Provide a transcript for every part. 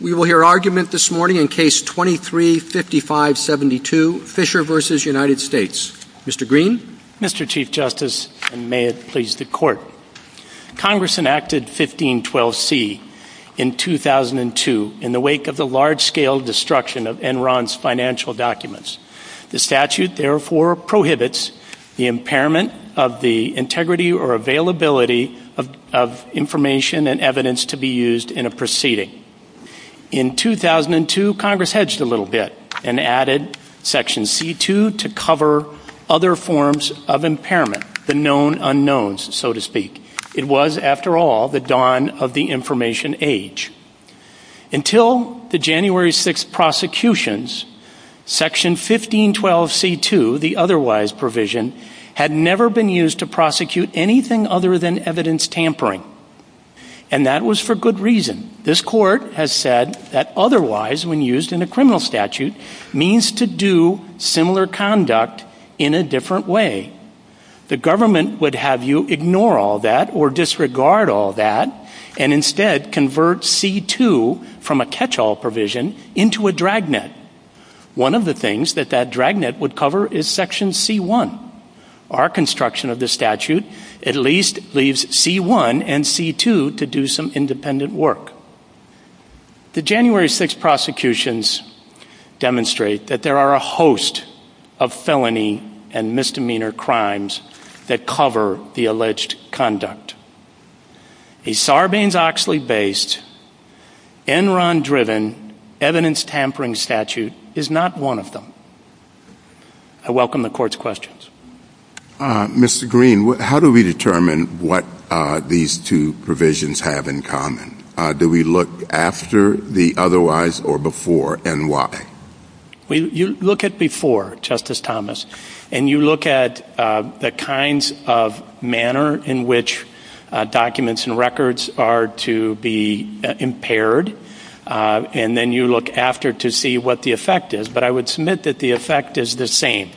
We will hear argument this morning in Case 23-5572, Fischer v. United States. Mr. Green. Mr. Chief Justice, and may it please the Court, Congress enacted 1512C in 2002 in the wake of the large-scale destruction of Enron's financial documents. The statute, therefore, prohibits the impairment of the integrity or availability of information and evidence to be used in a proceeding. In 2002, Congress hedged a little bit and added Section C-2 to cover other forms of impairment, the known unknowns, so to speak. It was, after all, the dawn of the information age. Until the January 6th prosecutions, Section 1512C-2, the otherwise provision, had never been used to prosecute anything other than evidence tampering. And that was for good reason. This Court has said that otherwise, when used in a criminal statute, means to do similar conduct in a different way. The government would have you ignore all that, or disregard all that, and instead convert C-2 from a catch-all provision into a dragnet. One of the things that that dragnet would cover is Section C-1. Our construction of this statute at least leaves C-1 and C-2 to do some independent work. The January 6th prosecutions demonstrate that there are a host of felony and misdemeanor crimes that cover the alleged conduct. A Sarbanes-Oxley-based, Enron-driven evidence tampering statute is not one of them. I welcome the Court's questions. Mr. Green, how do we determine what these two provisions have in common? Do we look after the otherwise or before, and why? You look at before, Justice Thomas. And you look at the kinds of manner in which documents and records are to be impaired. And then you look after to see what the effect is. But I would submit that the effect is the same.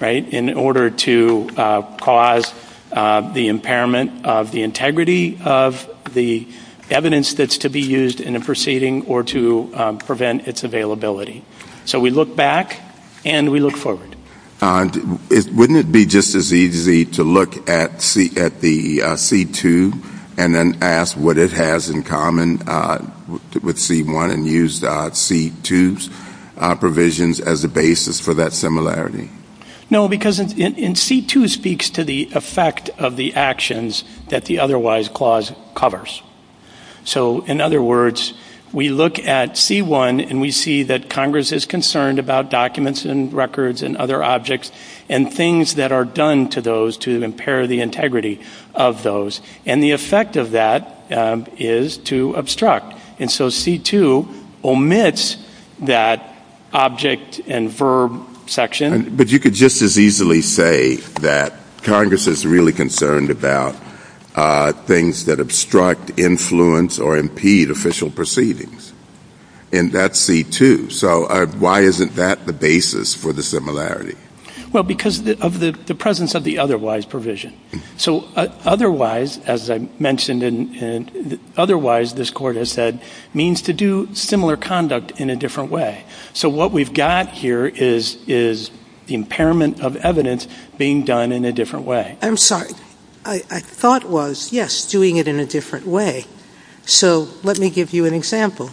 In order to cause the impairment of the integrity of the evidence that's to be used in a proceeding, or to prevent its availability. So we look back, and we look forward. Wouldn't it be just as easy to look at the C-2 and then ask what it has in common with C-1 and use C-2's provisions as a basis for that similarity? No, because C-2 speaks to the effect of the actions that the otherwise clause covers. So, in other words, we look at C-1 and we see that Congress is concerned about documents and records and other objects and things that are done to those to impair the integrity of those. And the effect of that is to obstruct. And so C-2 omits that object and verb section. But you could just as easily say that Congress is really concerned about things that obstruct, influence, or impede official proceedings. And that's C-2. So why isn't that the basis for the similarity? Well, because of the presence of the otherwise provision. So otherwise, as I mentioned, otherwise, this Court has said, means to do similar conduct in a different way. So what we've got here is impairment of evidence being done in a different way. I'm sorry. I thought it was, yes, doing it in a different way. So let me give you an example.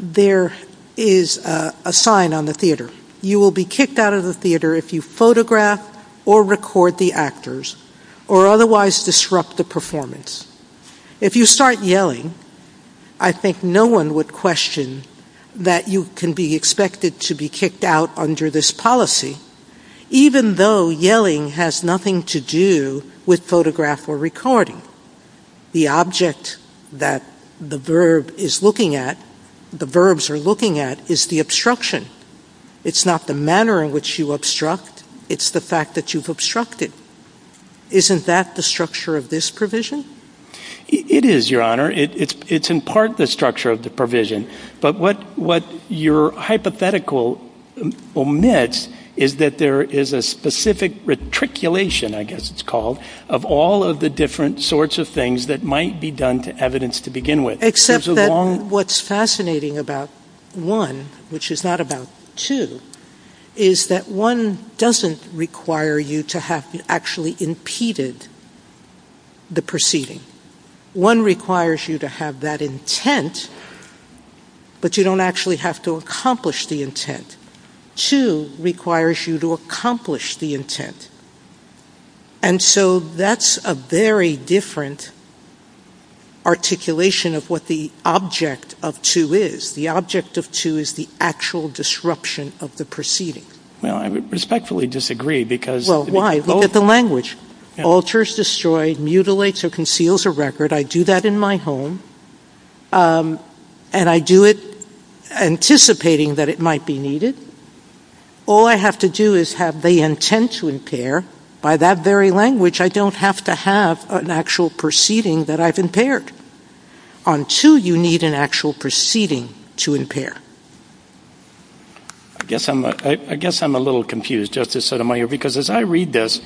There is a sign on the theater. You will be kicked out of the theater if you photograph or record the actors or otherwise disrupt the performance. If you start yelling, I think no one would question that you can be expected to be kicked out under this policy, even though yelling has nothing to do with photograph or recording. The object that the verb is looking at, the verbs are looking at, is the obstruction. It's not the manner in which you obstruct. It's the fact that you've obstructed. Isn't that the structure of this provision? It is, Your Honor. It's in part the structure of the provision. But what your hypothetical omits is that there is a specific retriculation, I guess it's called, of all of the different sorts of things that might be done to evidence to begin with. Except that what's fascinating about one, which is not about two, is that one doesn't require you to have actually impeded the proceeding. One requires you to have that intent, but you don't actually have to accomplish the intent. And so that's a very different articulation of what the object of two is. The object of two is the actual disruption of the proceeding. I respectfully disagree because... Well, why? Look at the language. Alters, destroys, mutilates, or conceals a record. I do that in my home. And I do it anticipating that it might be needed. All I have to do is have the intent to impair. By that very language, I don't have to have an actual proceeding that I've impaired. On two, you need an actual proceeding to impair. I guess I'm a little confused, Justice Sotomayor, because as I read this,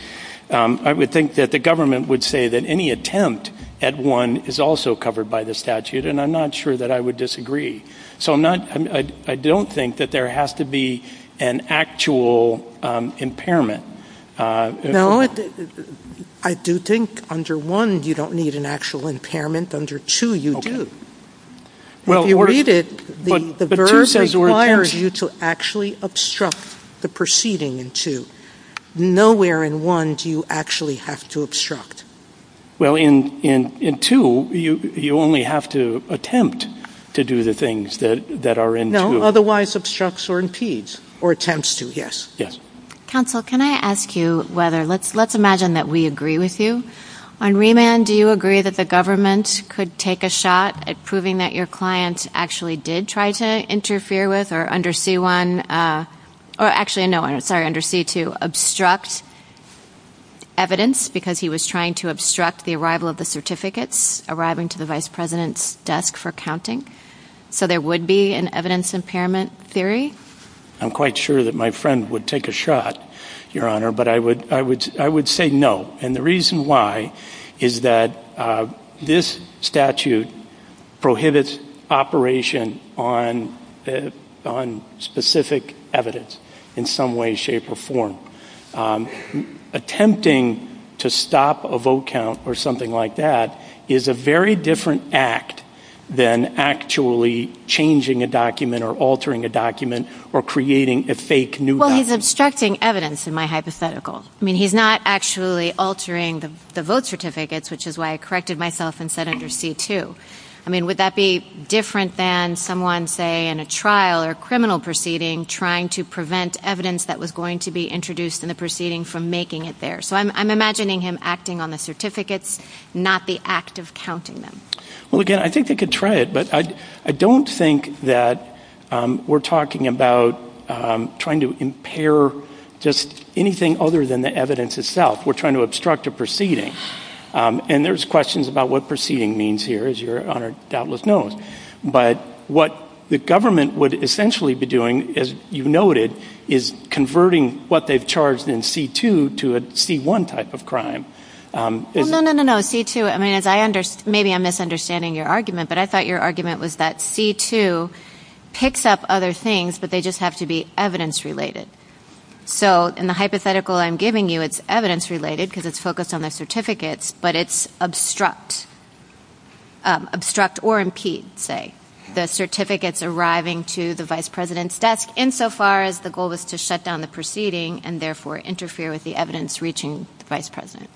I would think that the government would say that any attempt at one is also covered by the statute, and I'm not sure that I would disagree. So I don't think that there has to be an actual impairment. No, I do think under one, you don't need an actual impairment. Under two, you do. When you read it, the verb requires you to actually obstruct the proceeding in two. Nowhere in one do you actually have to obstruct. Well, in two, you only have to attempt to do the things that are in two. No, otherwise obstructs or impedes. Or attempts to, yes. Yes. Counsel, can I ask you whether, let's imagine that we agree with you. On remand, do you agree that the government could take a shot at proving that your client actually did try to interfere with or under C1, or actually, no, sorry, under C2, obstruct evidence because he was trying to obstruct the arrival of the certificates arriving to the Vice President's desk for counting? So there would be an evidence impairment theory? I'm quite sure that my friend would take a shot, Your Honor, but I would say no. And the reason why is that this statute prohibits operation on specific evidence in some way, shape, or form. Attempting to stop a vote count or something like that is a very different act than actually changing a document or altering a document or creating a fake new document. Well, he's obstructing evidence in my hypothetical. I mean, he's not actually altering the vote certificates, which is why I corrected myself and said under C2. I mean, would that be different than someone, say, in a trial or criminal proceeding, trying to prevent evidence that was going to be introduced in the proceeding from making it there? So I'm imagining him acting on the certificates, not the act of counting them. Well, again, I think they could try it, but I don't think that we're talking about trying to impair just anything other than the evidence itself. We're trying to obstruct a proceeding. And there's questions about what proceeding means here, as Your Honor doubtless knows. But what the government would essentially be doing, as you noted, is converting what they've charged in C2 to a C1 type of crime. No, no, no, no, C2. I mean, maybe I'm misunderstanding your argument, but I thought your argument was that C2 picks up other things, but they just have to be evidence-related. So in the hypothetical I'm giving you, it's evidence-related because it's focused on the certificates, but it's obstruct or impede, say, the certificates arriving to the vice president's desk, insofar as the goal is to shut down the proceeding and therefore interfere with the evidence reaching the vice president.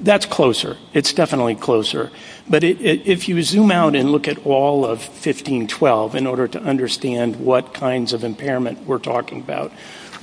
That's closer. It's definitely closer. But if you zoom out and look at all of 1512 in order to understand what kinds of impairment we're talking about,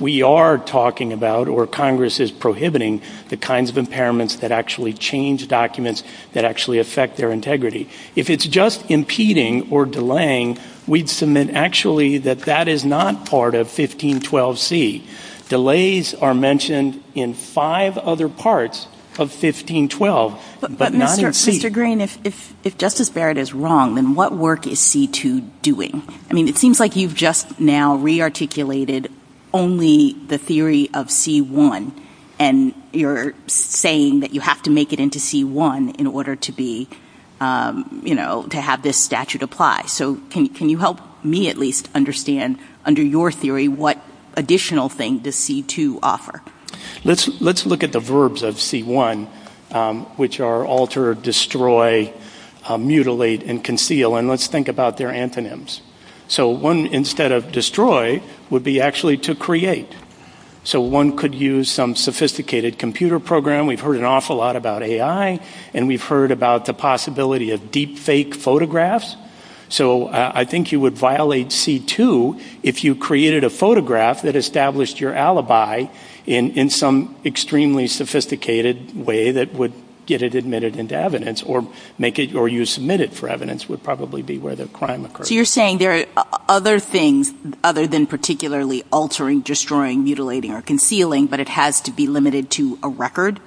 we are talking about or Congress is prohibiting the kinds of impairments that actually change documents that actually affect their integrity. If it's just impeding or delaying, we'd submit actually that that is not part of 1512C. Delays are mentioned in five other parts of 1512, but not in C. Mr. Green, if Justice Barrett is wrong, then what work is C2 doing? I mean, it seems like you've just now rearticulated only the theory of C1, and you're saying that you have to make it into C1 in order to have this statute apply. So can you help me at least understand, under your theory, what additional thing does C2 offer? Let's look at the verbs of C1, which are alter, destroy, mutilate, and conceal, and let's think about their antonyms. So one, instead of destroy, would be actually to create. So one could use some sophisticated computer program. We've heard an awful lot about AI, and we've heard about the possibility of deepfake photographs. So I think you would violate C2 if you created a photograph that established your alibi in some extremely sophisticated way that would get it admitted into evidence or you submit it for evidence would probably be where the crime occurred. So you're saying there are other things other than particularly altering, destroying, mutilating, or concealing, but it has to be limited to a record?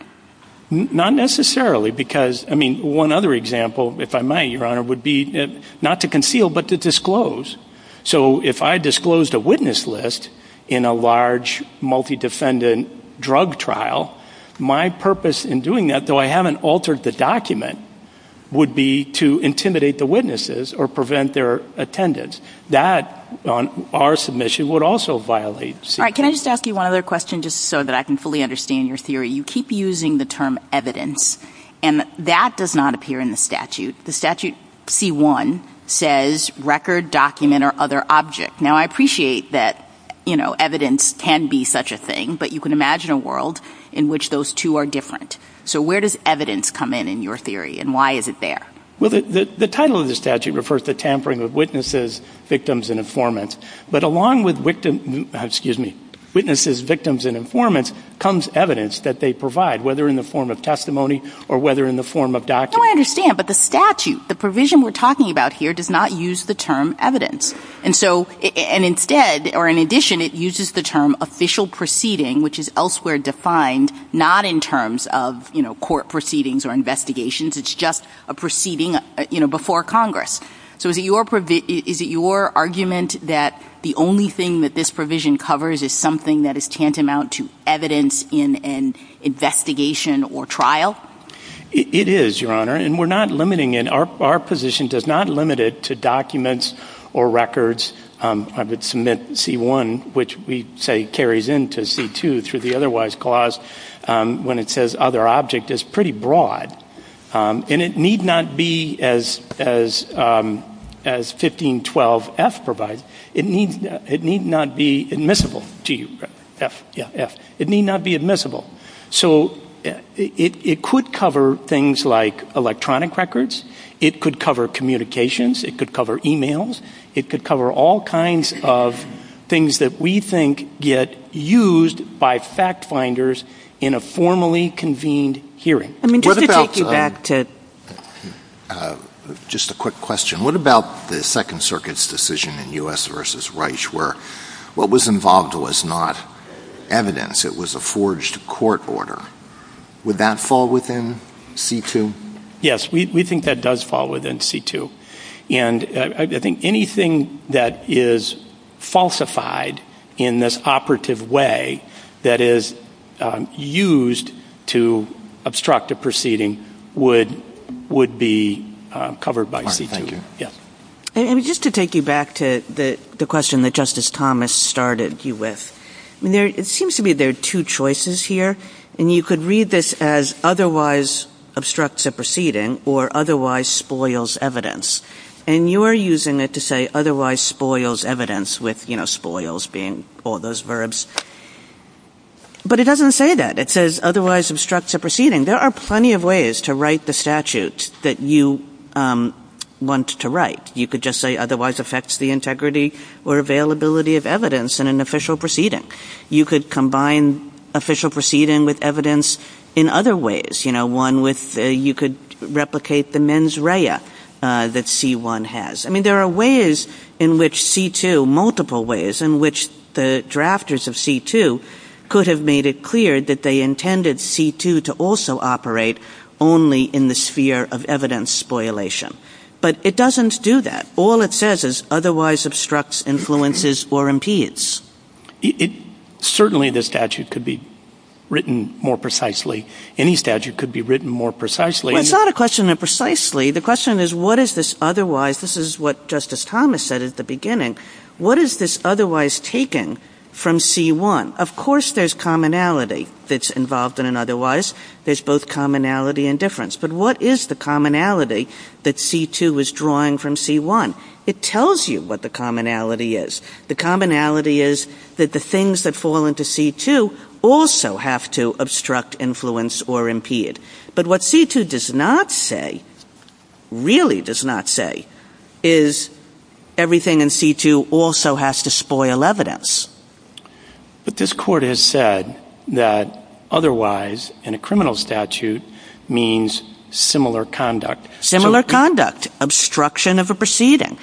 Not necessarily because, I mean, one other example, if I might, Your Honor, would be not to conceal but to disclose. So if I disclosed a witness list in a large multi-defendant drug trial, my purpose in doing that, though I haven't altered the document, would be to intimidate the witnesses or prevent their attendance. That, on our submission, would also violate C2. All right, can I just ask you one other question just so that I can fully understand your theory? You keep using the term evidence, and that does not appear in the statute. The statute C1 says record, document, or other object. Now, I appreciate that evidence can be such a thing, but you can imagine a world in which those two are different. So where does evidence come in in your theory, and why is it there? Well, the title of the statute refers to tampering with witnesses, victims, and informants. But along with witnesses, victims, and informants comes evidence that they provide, whether in the form of testimony or whether in the form of documents. No, I understand, but the statute, the provision we're talking about here, does not use the term evidence. And so, and instead, or in addition, it uses the term official proceeding, which is elsewhere defined not in terms of, you know, court proceedings or investigations. It's just a proceeding, you know, before Congress. So is it your argument that the only thing that this provision covers is something that is tantamount to evidence in an investigation or trial? It is, Your Honor, and we're not limiting it. Our position does not limit it to documents or records. I would submit C1, which we say carries into C2 through the otherwise clause, when it says other object, is pretty broad. And it need not be as 1512F provides. It need not be admissible to you. F, yeah, F. It need not be admissible. So it could cover things like electronic records. It could cover communications. It could cover e-mails. It could cover all kinds of things that we think get used by fact finders in a formally convened hearing. Let me take you back to just a quick question. What about the Second Circuit's decision in U.S. v. Reich where what was involved was not evidence? It was a forged court order. Would that fall within C2? Yes, we think that does fall within C2. And I think anything that is falsified in this operative way that is used to obstruct a proceeding would be covered by C2, yes. And just to take you back to the question that Justice Thomas started you with, it seems to me there are two choices here, and you could read this as otherwise obstructs a proceeding or otherwise spoils evidence. And you are using it to say otherwise spoils evidence with, you know, But it doesn't say that. It says otherwise obstructs a proceeding. There are plenty of ways to write the statute that you want to write. You could just say otherwise affects the integrity or availability of evidence in an official proceeding. You could combine official proceeding with evidence in other ways, you know, one with you could replicate the mens rea that C1 has. I mean, there are ways in which C2, multiple ways, there are ways in which the drafters of C2 could have made it clear that they intended C2 to also operate only in the sphere of evidence spoilation. But it doesn't do that. All it says is otherwise obstructs, influences, or impedes. Certainly the statute could be written more precisely. Any statute could be written more precisely. It's not a question of precisely. The question is what is this otherwise? This is what Justice Thomas said at the beginning. What is this otherwise taking from C1? Of course there's commonality that's involved in an otherwise. There's both commonality and difference. But what is the commonality that C2 is drawing from C1? It tells you what the commonality is. The commonality is that the things that fall into C2 also have to obstruct, influence, or impede. But what C2 does not say, really does not say, is everything in C2 also has to spoil evidence. But this court has said that otherwise in a criminal statute means similar conduct. Similar conduct, obstruction of a proceeding.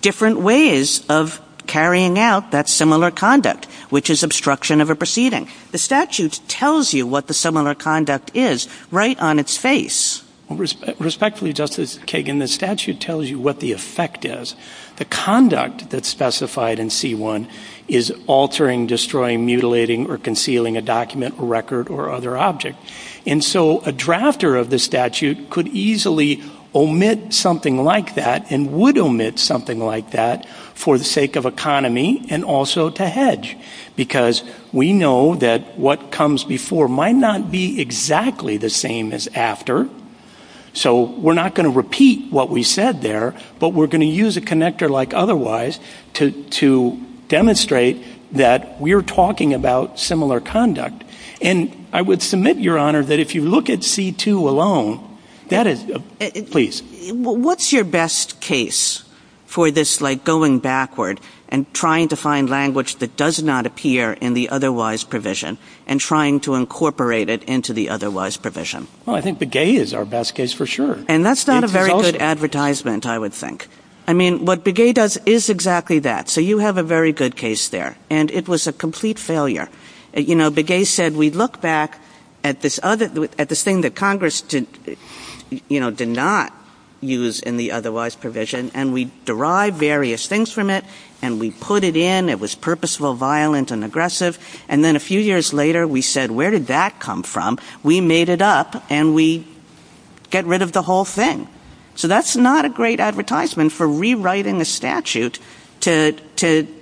Different ways of carrying out that similar conduct, which is obstruction of a proceeding. The statute tells you what the similar conduct is right on its face. Respectfully, Justice Kagan, the statute tells you what the effect is. The conduct that's specified in C1 is altering, destroying, mutilating, or concealing a document, record, or other object. And so a drafter of the statute could easily omit something like that and would omit something like that for the sake of economy and also to hedge. Because we know that what comes before might not be exactly the same as after. So we're not going to repeat what we said there, but we're going to use a connector like otherwise to demonstrate that we're talking about similar conduct. And I would submit, Your Honor, that if you look at C2 alone, that is... Please. What's your best case for this, like, going backward and trying to find language that does not appear in the otherwise provision and trying to incorporate it into the otherwise provision? Well, I think Begay is our best case for sure. And that's not a very good advertisement, I would think. I mean, what Begay does is exactly that. So you have a very good case there. And it was a complete failure. You know, Begay said, we look back at this thing that Congress did not use in the otherwise provision, and we derived various things from it, and we put it in. It was purposeful, violent, and aggressive. And then a few years later, we said, where did that come from? We made it up, and we get rid of the whole thing. So that's not a great advertisement for rewriting a statute to take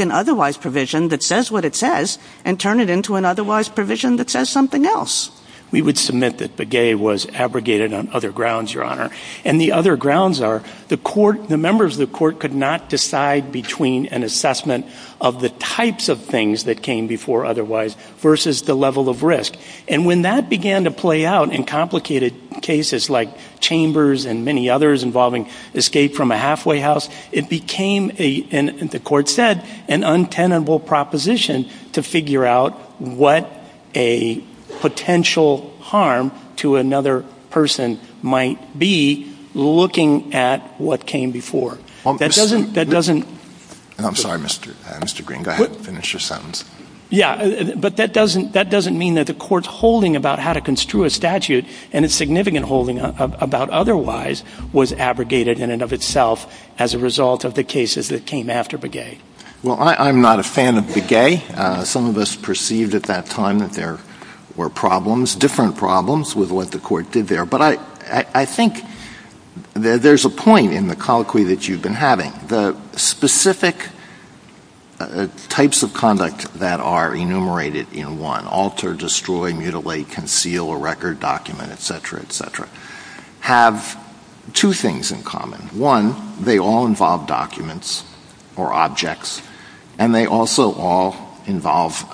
an otherwise provision that says what it says and turn it into an otherwise provision that says something else. We would submit that Begay was abrogated on other grounds, Your Honor. And the other grounds are the members of the court could not decide between an assessment of the types of things that came before otherwise versus the level of risk. And when that began to play out in complicated cases like Chambers and many others involving escape from a halfway house, it became, the court said, an untenable proposition to figure out what a potential harm to another person might be looking at what came before. That doesn't... I'm sorry, Mr. Green, go ahead and finish your sentence. Yeah, but that doesn't mean that the court's holding about how to construe a statute and its significant holding about otherwise was abrogated in and of itself as a result of the cases that came after Begay. Well, I'm not a fan of Begay. Some of us perceived at that time that there were problems, different problems with what the court did there. But I think there's a point in the colloquy that you've been having. The specific types of conduct that are enumerated in one, alter, destroy, mutilate, conceal, or record, document, et cetera, et cetera, have two things in common. One, they all involve documents or objects, and they also all involve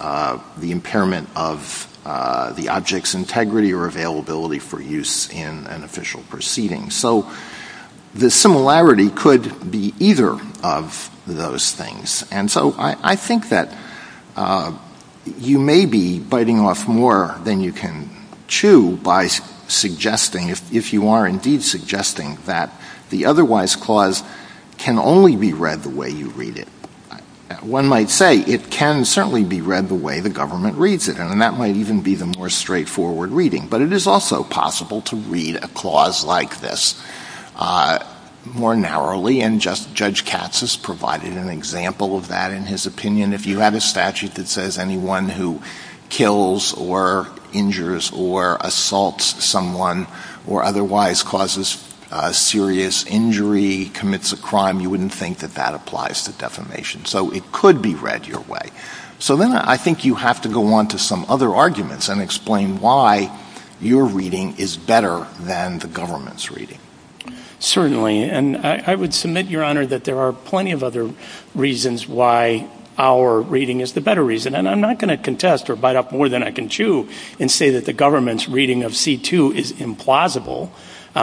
the impairment of the object's integrity or availability for use in an official proceeding. So the similarity could be either of those things. And so I think that you may be biting off more than you can chew by suggesting, if you are indeed suggesting that the otherwise clause can only be read the way you read it. One might say it can certainly be read the way the government reads it, and that might even be the more straightforward reading. But it is also possible to read a clause like this more narrowly, and Judge Katz has provided an example of that in his opinion. If you have a statute that says anyone who kills or injures or assaults someone or otherwise causes serious injury, commits a crime, you wouldn't think that that applies to defamation. So it could be read your way. So then I think you have to go on to some other arguments and explain why your reading is better than the government's reading. Certainly, and I would submit, Your Honor, that there are plenty of other reasons why our reading is the better reason. And I'm not going to contest or bite off more than I can chew and say that the government's reading of C-2 is implausible.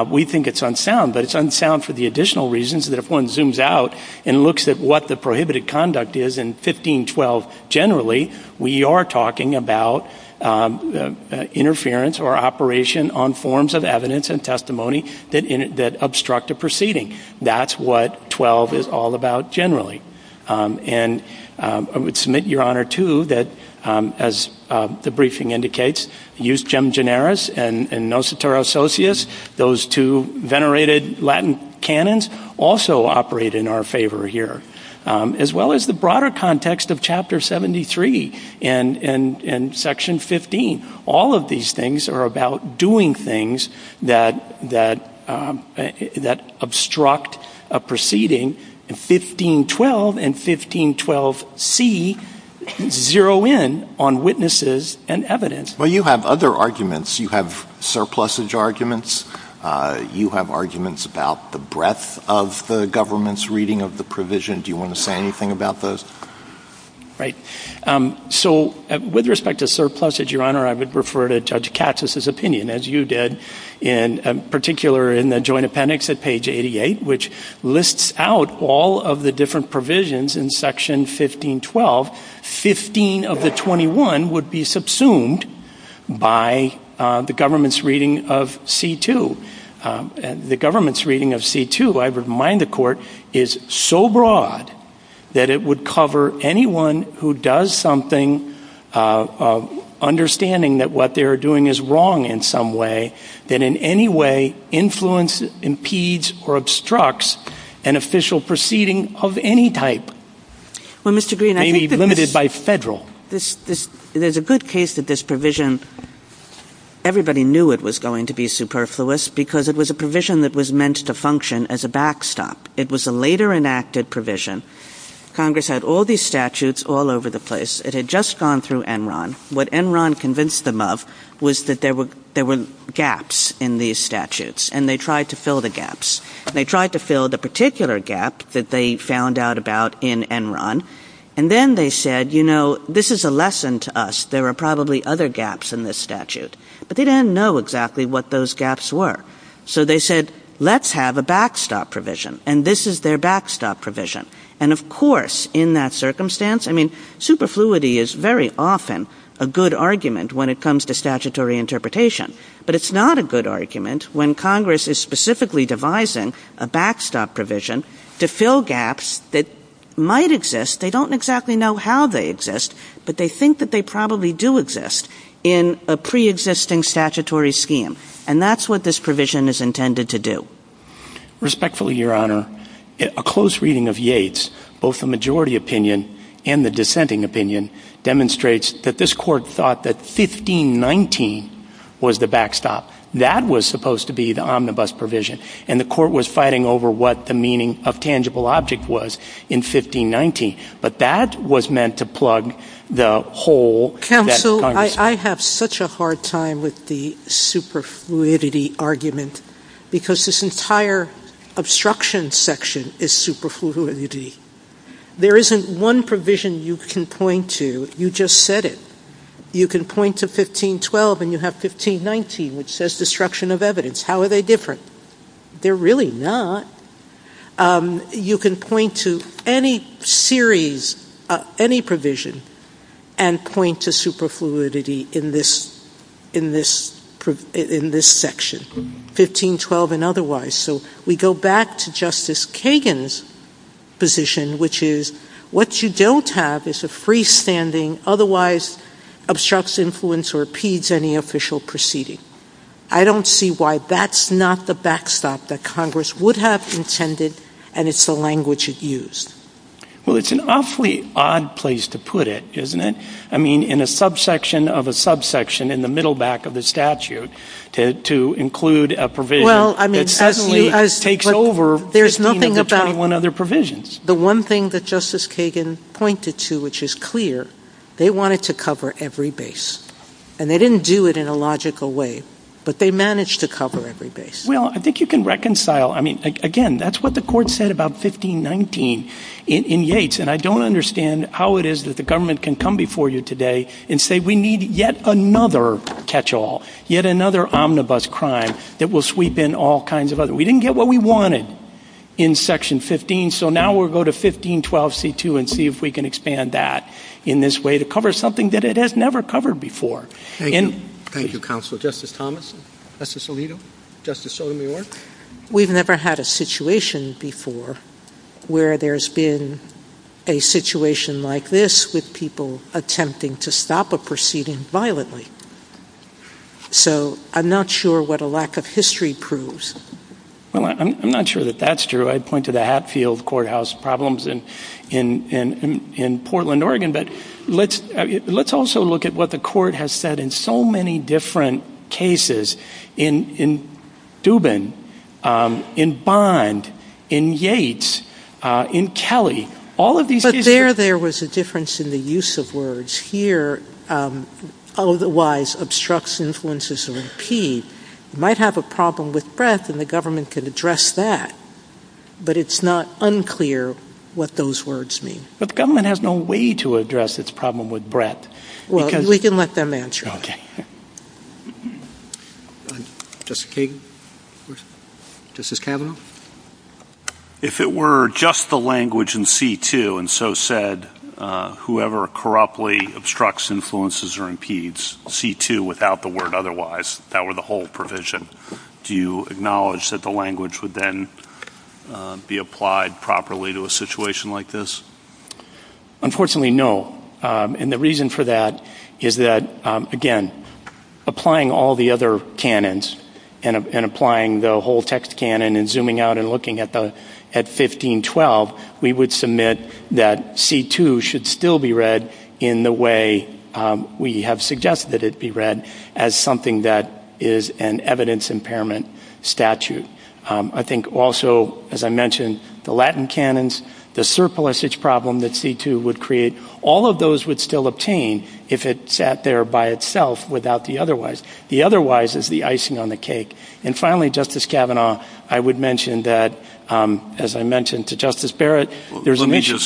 We think it's unsound, but it's unsound for the additional reasons that if one zooms out and looks at what the prohibited conduct is in 1512 generally, we are talking about interference or operation on forms of evidence and testimony that obstruct a proceeding. That's what 12 is all about generally. And I would submit, Your Honor, too, that as the briefing indicates, eus gem generis and nos et terra socius, those two venerated Latin canons also operate in our favor here, as well as the broader context of Chapter 73 and Section 15. All of these things are about doing things that obstruct a proceeding. 1512 and 1512C zero in on witnesses and evidence. Well, you have other arguments. You have surplusage arguments. You have arguments about the breadth of the government's reading of the provision. Do you want to say anything about those? Right. So with respect to surplusage, Your Honor, I would refer to Judge Katz's opinion, as you did in particular in the joint appendix at page 88, which lists out all of the different provisions in Section 1512. Fifteen of the 21 would be subsumed by the government's reading of C-2. The government's reading of C-2, I remind the Court, is so broad that it would cover anyone who does something, understanding that what they're doing is wrong in some way, that in any way influences, impedes, or obstructs an official proceeding of any type. Maybe limited by federal. There's a good case of this provision. Everybody knew it was going to be superfluous because it was a provision that was meant to function as a backstop. It was a later enacted provision. Congress had all these statutes all over the place. It had just gone through Enron. What Enron convinced them of was that there were gaps in these statutes, and they tried to fill the gaps. They tried to fill the particular gap that they found out about in Enron, and then they said, you know, this is a lesson to us. There are probably other gaps in this statute. But they didn't know exactly what those gaps were. So they said, let's have a backstop provision, and this is their backstop provision. Of course, in that circumstance, superfluity is very often a good argument when it comes to statutory interpretation, but it's not a good argument when Congress is specifically devising a backstop provision to fill gaps that might exist. They don't exactly know how they exist, but they think that they probably do exist in a preexisting statutory scheme, and that's what this provision is intended to do. Respectfully, Your Honor, a close reading of Yates, both the majority opinion and the dissenting opinion, demonstrates that this Court thought that 1519 was the backstop. That was supposed to be the omnibus provision, and the Court was fighting over what the meaning of tangible object was in 1519, but that was meant to plug the hole that Congress had. Counsel, I have such a hard time with the superfluidity argument because this entire obstruction section is superfluidity. There isn't one provision you can point to. You just said it. You can point to 1512, and you have 1519, which says destruction of evidence. How are they different? They're really not. You can point to any series, any provision, and point to superfluidity in this section, 1512 and otherwise. So we go back to Justice Kagan's position, which is what you don't have is a freestanding, otherwise obstructs influence or impedes any official proceeding. I don't see why that's not the backstop that Congress would have intended, and it's the language you've used. Well, it's an awfully odd place to put it, isn't it? I mean, in a subsection of a subsection in the middle back of the statute, to include a provision, it certainly takes over the 21 other provisions. The one thing that Justice Kagan pointed to which is clear, they wanted to cover every base, and they didn't do it in a logical way, but they managed to cover every base. Well, I think you can reconcile. I mean, again, that's what the court said about 1519 in Yates, and I don't understand how it is that the government can come before you today and say we need yet another catch-all, yet another omnibus crime. It will sweep in all kinds of other. We didn't get what we wanted in Section 15, so now we'll go to 1512C2 and see if we can expand that in this way to cover something that it has never covered before. Thank you, Counsel. Justice Thomas? Justice Alito? Justice Sotomayor? We've never had a situation before where there's been a situation like this with people attempting to stop a proceeding violently. So I'm not sure what a lack of history proves. I'm not sure that that's true. I point to the Hatfield Courthouse problems in Portland, Oregon. But let's also look at what the court has said in so many different cases, in Dubin, in Bond, in Yates, in Kelly. But there there was a difference in the use of words. Here, otherwise obstructs, influences, and repeats. You might have a problem with breadth, and the government could address that. But it's not unclear what those words mean. But the government has no way to address its problem with breadth. Well, we can let them answer it. Okay. Justice Kagan? Justice Kavanaugh? If it were just the language in C2 and so said, whoever corruptly obstructs, influences, or impedes, C2 without the word otherwise, that were the whole provision, do you acknowledge that the language would then be applied properly to a situation like this? Unfortunately, no. And the reason for that is that, again, applying all the other canons and applying the whole text canon and zooming out and looking at 1512, we would submit that C2 should still be read in the way we have suggested it be read as something that is an evidence impairment statute. I think also, as I mentioned, the Latin canons, the surplusage problem that C2 would create, all of those would still obtain if it sat there by itself without the otherwise. The otherwise is the icing on the cake. And finally, Justice Kavanaugh, I would mention that, as I mentioned to Justice Barrett, there's an issue.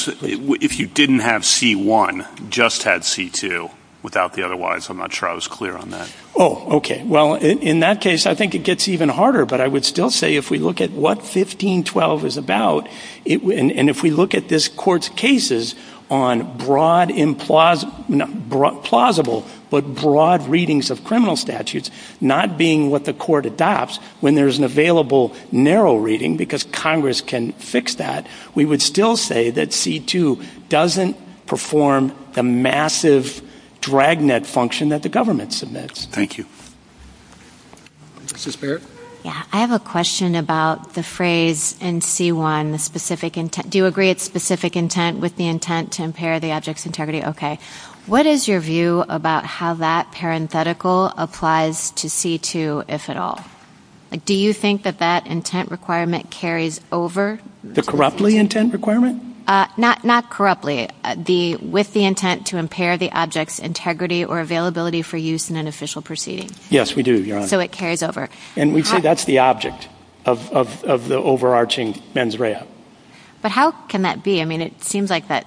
If you didn't have C1, just had C2 without the otherwise, I'm not sure I was clear on that. Oh, okay. Well, in that case, I think it gets even harder, but I would still say if we look at what 1512 is about, and if we look at this Court's cases on broad, plausible, but broad readings of criminal statutes, not being what the Court adopts when there's an available narrow reading, because Congress can fix that, we would still say that C2 doesn't perform the massive dragnet function that the government submits. Thank you. Justice Barrett? Yeah, I have a question about the phrase in C1, the specific intent. Do you agree it's specific intent with the intent to impair the object's integrity? Okay. What is your view about how that parenthetical applies to C2, if at all? Do you think that that intent requirement carries over? The corruptly intent requirement? Not corruptly. With the intent to impair the object's integrity or availability for use in an official proceeding. Yes, we do, Your Honor. So it carries over. And we say that's the object of the overarching mens rea. But how can that be? I mean, it seems like that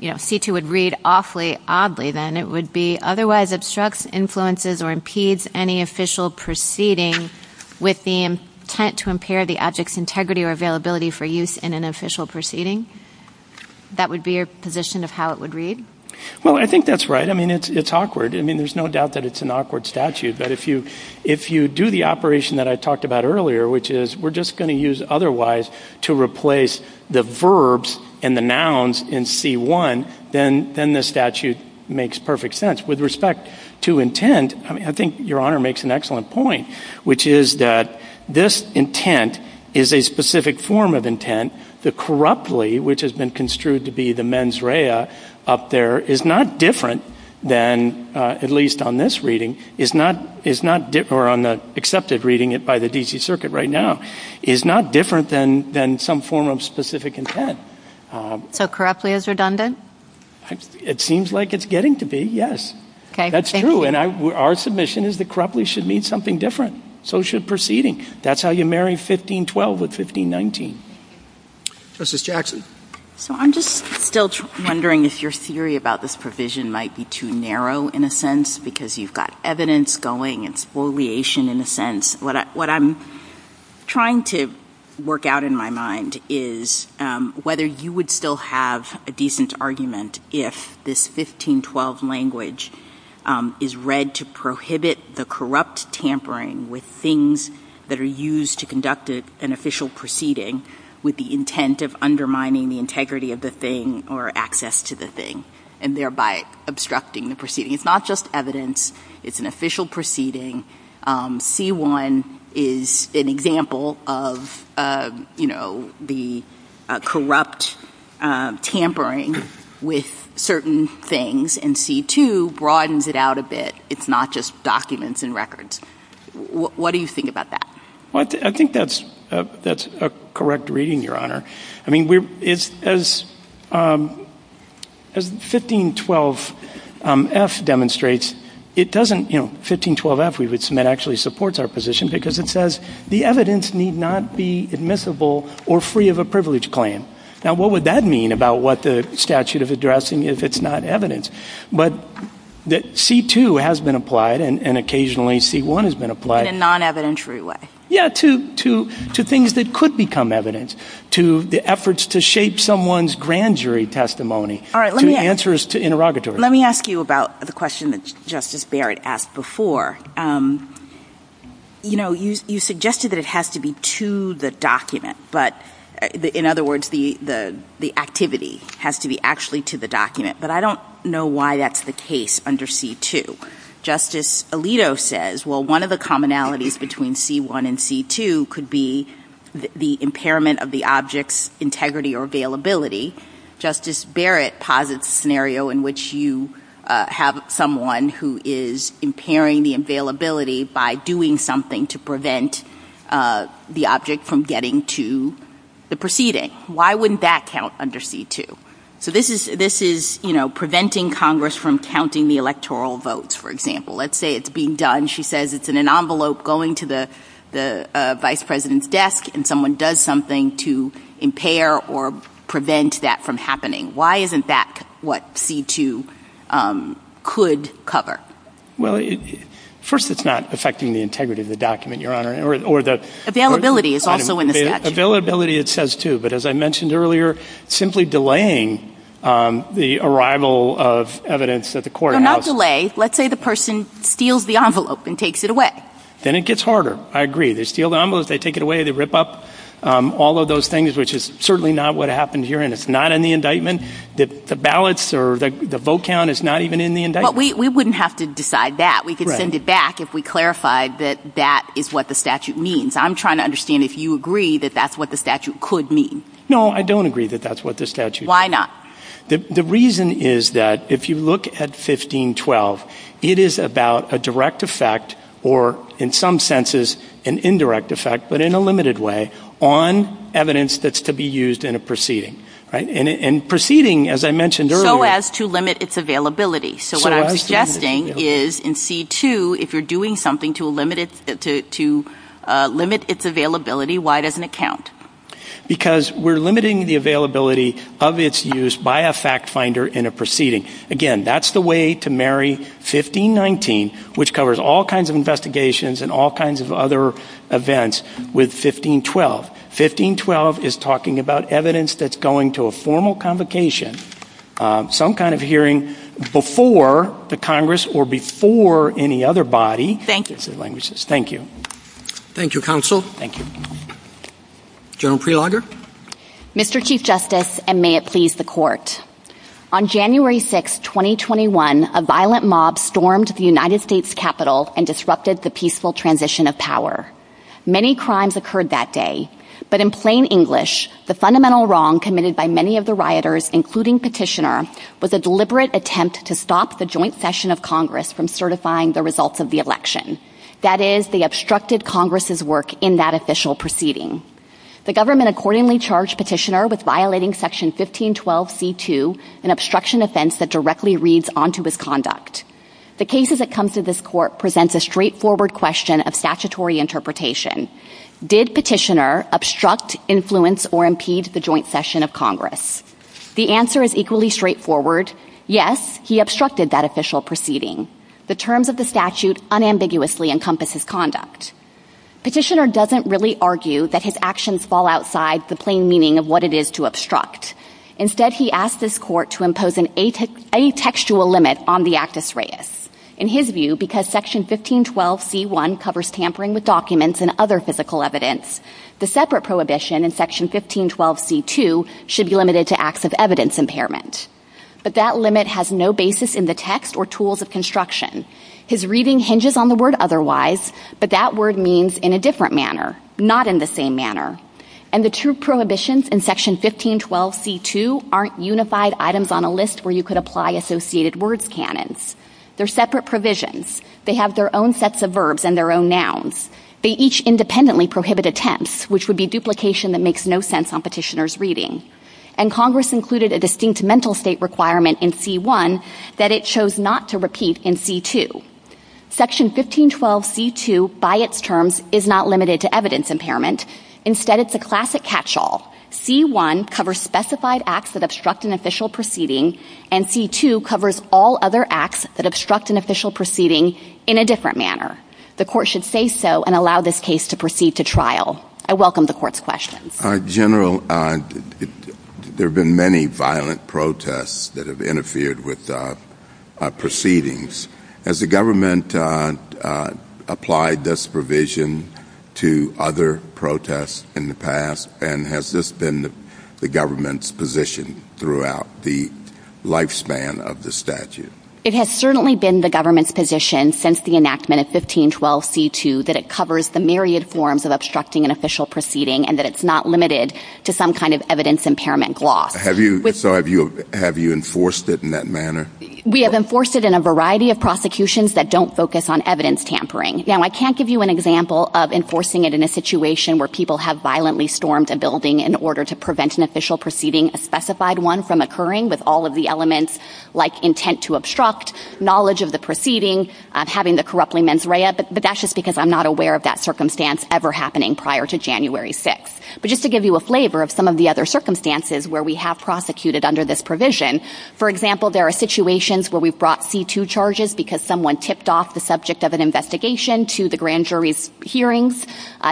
C2 would read awfully oddly then. It would be otherwise obstructs, influences, or impedes any official proceeding with the intent to impair the object's integrity or availability for use in an official proceeding. That would be your position of how it would read? Well, I think that's right. I mean, it's awkward. I mean, there's no doubt that it's an awkward statute. But if you do the operation that I talked about earlier, which is we're just going to use otherwise to replace the verbs and the nouns in C1, then the statute makes perfect sense. With respect to intent, I think Your Honor makes an excellent point, which is that this intent is a specific form of intent. The corruptly, which has been construed to be the mens rea up there, is not different than, at least on this reading, or on the accepted reading by the D.C. Circuit right now, is not different than some form of specific intent. So corruptly is redundant? It seems like it's getting to be, yes. That's true. And our submission is that corruptly should mean something different. So should proceeding. That's how you marry 1512 with 1519. Justice Jackson. So I'm just still wondering if your theory about this provision might be too narrow, in a sense, because you've got evidence going and spoliation, in a sense. What I'm trying to work out in my mind is whether you would still have a decent argument if this 1512 language is read to prohibit the corrupt tampering with things that are used to conduct an official proceeding with the intent of undermining the integrity of the thing or access to the thing, and thereby obstructing the proceeding. It's not just evidence. It's an official proceeding. C-1 is an example of the corrupt tampering with certain things, and C-2 broadens it out a bit. It's not just documents and records. What do you think about that? I think that's a correct reading, Your Honor. I mean, as 1512-F demonstrates, it doesn't, you know, 1512-F we would submit actually supports our position because it says the evidence need not be admissible or free of a privilege claim. Now, what would that mean about what the statute is addressing if it's not evidence? But C-2 has been applied, and occasionally C-1 has been applied. In a non-evident true way. Yeah, to things that could become evidence, to the efforts to shape someone's grand jury testimony, to answers to interrogatories. Let me ask you about the question that Justice Barrett asked before. You know, you suggested that it has to be to the document, but, in other words, the activity has to be actually to the document, but I don't know why that's the case under C-2. Justice Alito says, well, one of the commonalities between C-1 and C-2 could be the impairment of the object's integrity or availability. Justice Barrett posits a scenario in which you have someone who is impairing the availability by doing something to prevent the object from getting to the proceeding. Why wouldn't that count under C-2? So this is, you know, preventing Congress from counting the electoral votes, for example. Let's say it's being done, she says it's in an envelope going to the vice president's desk and someone does something to impair or prevent that from happening. Why isn't that what C-2 could cover? Well, first it's not affecting the integrity of the document, Your Honor. Availability is also in the statute. But as I mentioned earlier, simply delaying the arrival of evidence at the courthouse. So not delay. Let's say the person steals the envelope and takes it away. Then it gets harder. I agree. They steal the envelope, they take it away, they rip up all of those things, which is certainly not what happened here, and it's not in the indictment. The ballots or the vote count is not even in the indictment. But we wouldn't have to decide that. We could send it back if we clarified that that is what the statute means. I'm trying to understand if you agree that that's what the statute could mean. No, I don't agree that that's what the statute means. Why not? The reason is that if you look at 1512, it is about a direct effect or, in some senses, an indirect effect, but in a limited way on evidence that's to be used in a proceeding. And proceeding, as I mentioned earlier. So as to limit its availability. So what I'm suggesting is in C2, if you're doing something to limit its availability, why doesn't it count? Because we're limiting the availability of its use by a fact finder in a proceeding. Again, that's the way to marry 1519, which covers all kinds of investigations and all kinds of other events, with 1512. 1512 is talking about evidence that's going to a formal convocation, some kind of hearing before the Congress or before any other body. Thank you. Thank you. Thank you, Counsel. Thank you. General Prelogar. Mr. Chief Justice, and may it please the Court, on January 6, 2021, a violent mob stormed the United States Capitol and disrupted the peaceful transition of power. Many crimes occurred that day, but in plain English, the fundamental wrong committed by many of the rioters, including Petitioner, was a deliberate attempt to stop the joint session of Congress from certifying the results of the election. That is, they obstructed Congress's work in that official proceeding. The government accordingly charged Petitioner with violating Section 1512C2, an obstruction offense that directly reads onto his conduct. The case as it comes to this Court presents a straightforward question of statutory interpretation. Did Petitioner obstruct, influence, or impede the joint session of Congress? The answer is equally straightforward. Yes, he obstructed that official proceeding. The terms of the statute unambiguously encompass his conduct. Petitioner doesn't really argue that his actions fall outside the plain meaning of what it is to obstruct. Instead, he asked this Court to impose an atextual limit on the actus reus. The separate prohibition in Section 1512C2 should be limited to acts of evidence impairment. But that limit has no basis in the text or tools of construction. His reading hinges on the word otherwise, but that word means in a different manner, not in the same manner. And the two prohibitions in Section 1512C2 aren't unified items on a list where you could apply associated words canons. They're separate provisions. They have their own sets of verbs and their own nouns. They each independently prohibit attempts, which would be duplication that makes no sense on Petitioner's reading. And Congress included a distinct mental state requirement in C1 that it chose not to repeat in C2. Section 1512C2, by its terms, is not limited to evidence impairment. Instead, it's a classic catch-all. C1 covers specified acts that obstruct an official proceeding, and C2 covers all other acts that obstruct an official proceeding in a different manner. The court should say so and allow this case to proceed to trial. I welcome the court's questions. General, there have been many violent protests that have interfered with proceedings. Has the government applied this provision to other protests in the past, and has this been the government's position throughout the lifespan of the statute? It has certainly been the government's position since the enactment of 1512C2 that it covers the myriad forms of obstructing an official proceeding and that it's not limited to some kind of evidence impairment law. So have you enforced it in that manner? We have enforced it in a variety of prosecutions that don't focus on evidence tampering. Now, I can't give you an example of enforcing it in a situation where people have violently stormed a building in order to prevent an official proceeding, a specified one, from occurring with all of the elements like intent to obstruct, knowledge of the proceeding, having the corruptly mens rea, but that's just because I'm not aware of that circumstance ever happening prior to January 6th. But just to give you a flavor of some of the other circumstances where we have prosecuted under this provision, for example, there are situations where we've brought C2 charges because someone tipped off the subject of an investigation to the grand jury's hearings.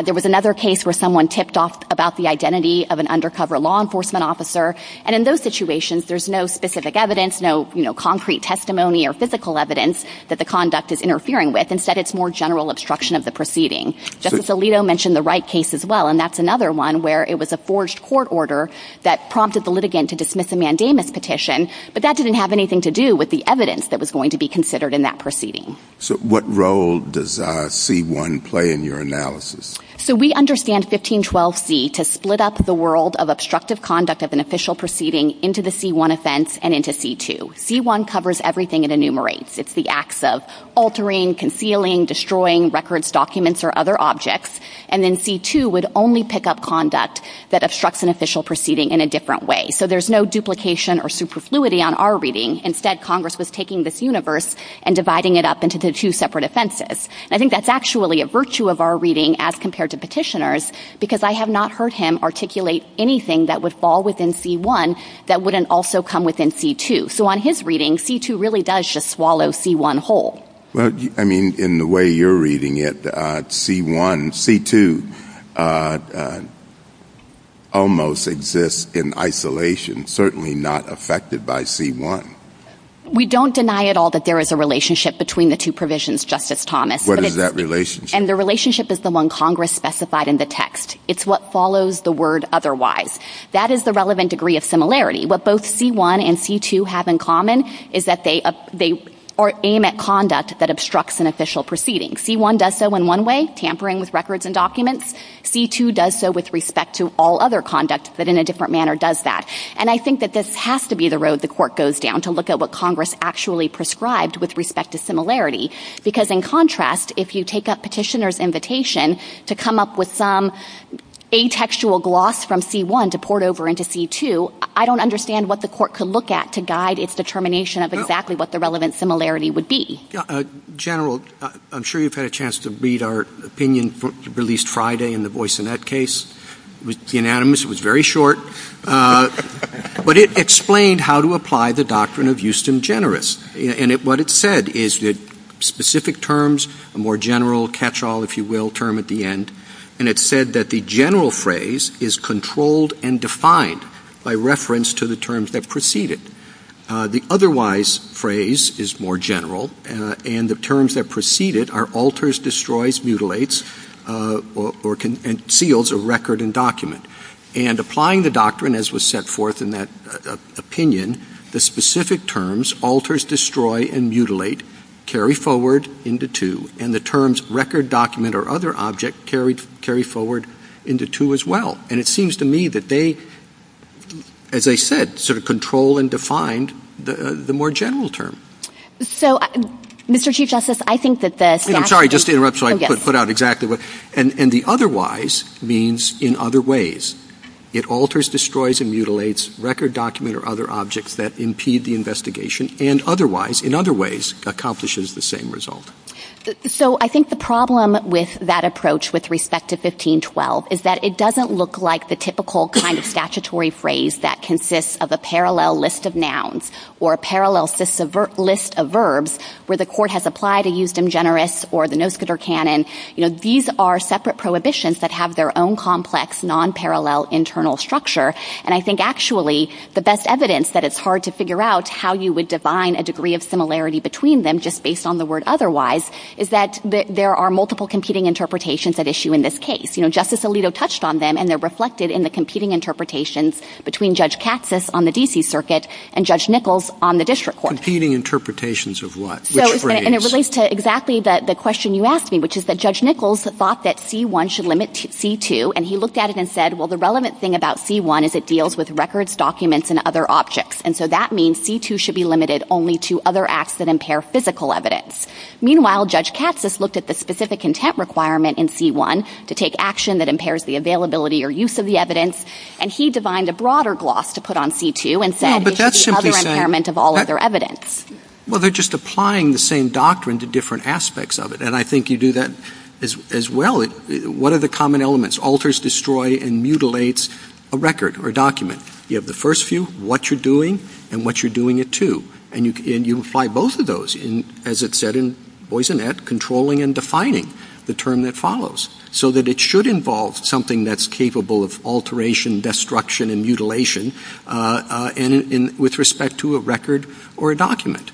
There was another case where someone tipped off about the identity of an undercover law enforcement officer, and in those situations, there's no specific evidence, no concrete testimony or physical evidence that the conduct is interfering with. Instead, it's more general obstruction of the proceeding. Justice Alito mentioned the Wright case as well, and that's another one where it was a forged court order that prompted the litigant to dismiss a mandamus petition, but that didn't have anything to do with the evidence that was going to be considered in that proceeding. So what role does C1 play in your analysis? So we understand 1512C to split up the world of obstructive conduct of an official proceeding into the C1 offense and into C2. C1 covers everything it enumerates. It's the acts of altering, concealing, destroying records, documents, or other objects, and then C2 would only pick up conduct that obstructs an official proceeding in a different way. So there's no duplication or superfluity on our reading. Instead, Congress was taking this universe and dividing it up into two separate offenses. I think that's actually a virtue of our reading as compared to petitioners because I have not heard him articulate anything that would fall within C1 that wouldn't also come within C2. So on his reading, C2 really does just swallow C1 whole. Well, I mean, in the way you're reading it, C1 and C2 almost exist in isolation, certainly not affected by C1. We don't deny at all that there is a relationship between the two provisions, Justice Thomas. What is that relationship? And the relationship is the one Congress specified in the text. It's what follows the word otherwise. That is the relevant degree of similarity. What both C1 and C2 have in common is that they aim at conduct that obstructs an official proceeding. C1 does so in one way, tampering with records and documents. C2 does so with respect to all other conducts, but in a different manner does that. And I think that this has to be the road the court goes down to look at what Congress actually prescribed with respect to similarity because, in contrast, if you take up petitioner's invitation to come up with some atextual gloss from C1 to port over into C2, I don't understand what the court could look at to guide its determination of exactly what the relevant similarity would be. General, I'm sure you've had a chance to read our opinion released Friday and the voice in that case. It was unanimous. It was very short. But it explained how to apply the doctrine of Euston Generous. And what it said is that specific terms, a more general catch-all, if you will, term at the end, and it said that the general phrase is controlled and defined by reference to the terms that preceded. The otherwise phrase is more general, and the terms that preceded are alters, destroys, mutilates, or conceals a record and document. And applying the doctrine as was set forth in that opinion, the specific terms, alters, destroy, and mutilate, carry forward into two. And the terms record, document, or other object carry forward into two as well. And it seems to me that they, as I said, sort of control and define the more general term. So, Mr. Chief Justice, I think that the statute... Sorry, just to interrupt so I can put out exactly what... And the otherwise means in other ways. It alters, destroys, and mutilates record, document, or other objects that impede the investigation, and otherwise, in other ways, accomplishes the same result. So, I think the problem with that approach with respect to 1512 is that it doesn't look like the typical kind of statutory phrase that consists of a parallel list of nouns or a parallel list of verbs where the court has applied a eustem generis or the noscator canon. You know, these are separate prohibitions that have their own complex, nonparallel internal structure. And I think, actually, the best evidence that it's hard to figure out how you would define a degree of similarity between them just based on the word otherwise is that there are multiple competing interpretations at issue in this case. You know, Justice Alito touched on them, and they're reflected in the competing interpretations between Judge Katsas on the D.C. Circuit and Judge Nichols on the district court. Competing interpretations of what? And it relates to exactly the question you asked me, which is that Judge Nichols thought that C-1 should limit C-2, and he looked at it and said, well, the relevant thing about C-1 is it deals with records, documents, and other objects. And so that means C-2 should be limited only to other acts that impair physical evidence. Meanwhile, Judge Katsas looked at the specific intent requirement in C-1 to take action that impairs the availability or use of the evidence, and he defined a broader gloss to put on C-2 and said it's the other impairment of all other evidence. Well, they're just applying the same doctrine to different aspects of it, and I think you do that as well. What are the common elements? Alters destroy and mutilates a record or a document. You have the first few, what you're doing, and what you're doing it to, and you apply both of those, as it's said in Boisinet, controlling and defining the term that follows so that it should involve something that's capable of alteration, destruction, and mutilation with respect to a record or a document.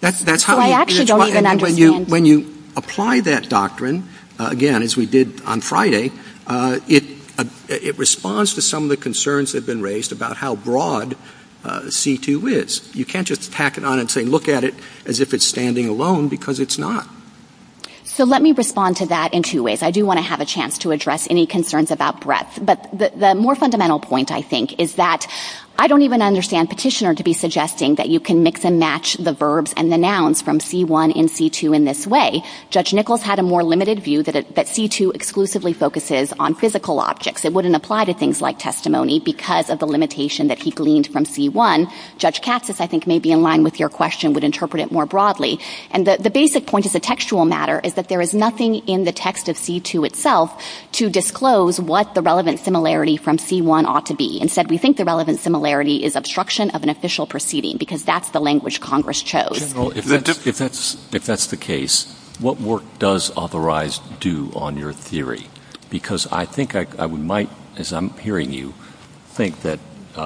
That's how... So I actually don't even understand... When you apply that doctrine, again, as we did on Friday, it responds to some of the concerns that have been raised about how broad C-2 is. You can't just tack it on and say, look at it as if it's standing alone, because it's not. So let me respond to that in two ways. I do want to have a chance to address any concerns about breadth, but the more fundamental point, I think, is that I don't even understand Petitioner to be suggesting that you can mix and match the verbs and the nouns from C-1 and C-2 in this way. Judge Nichols had a more limited view that C-2 exclusively focuses on physical objects. It wouldn't apply to things like testimony because of the limitation that he gleaned from C-1. Judge Katsas, I think, maybe in line with your question, would interpret it more broadly. And the basic point of the textual matter is that there is nothing in the text of C-2 itself to disclose what the relevant similarity from C-1 ought to be. Instead, we think the relevant similarity is obstruction of an official proceeding because that's the language Congress chose. General, if that's the case, what work does Authorize do on your theory? Because I think I might, as I'm hearing you, think that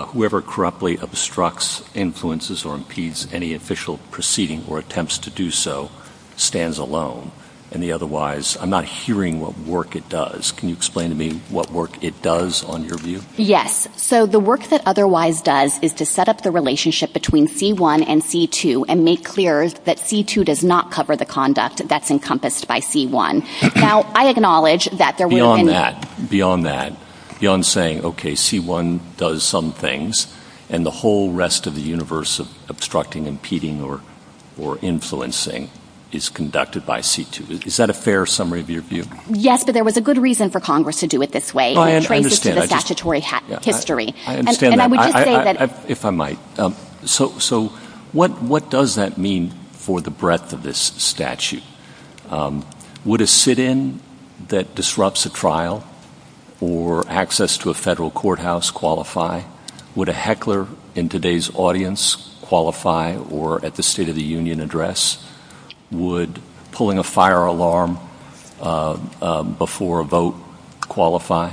whoever corruptly obstructs, influences, or impedes any official proceeding or attempts to do so stands alone. And otherwise, I'm not hearing what work it does. Can you explain to me what work it does on your view? Yes, so the work that Authorize does is to set up the relationship between C-1 and C-2 and make clear that C-2 does not cover the conduct that's encompassed by C-1. Now, I acknowledge that there will be... Beyond that, beyond that, beyond saying, okay, C-1 does some things, and the whole rest of the universe of obstructing, impeding, or influencing is conducted by C-2. Is that a fair summary of your view? Yes, but there was a good reason for Congress to do it this way. Oh, I understand. It's related to the statutory history. I understand that. And I would just say that... If I might. So what does that mean for the breadth of this statute? Would a sit-in that disrupts a trial or access to a federal courthouse qualify? Would a heckler in today's audience qualify or at the State of the Union address? Would pulling a fire alarm before a vote qualify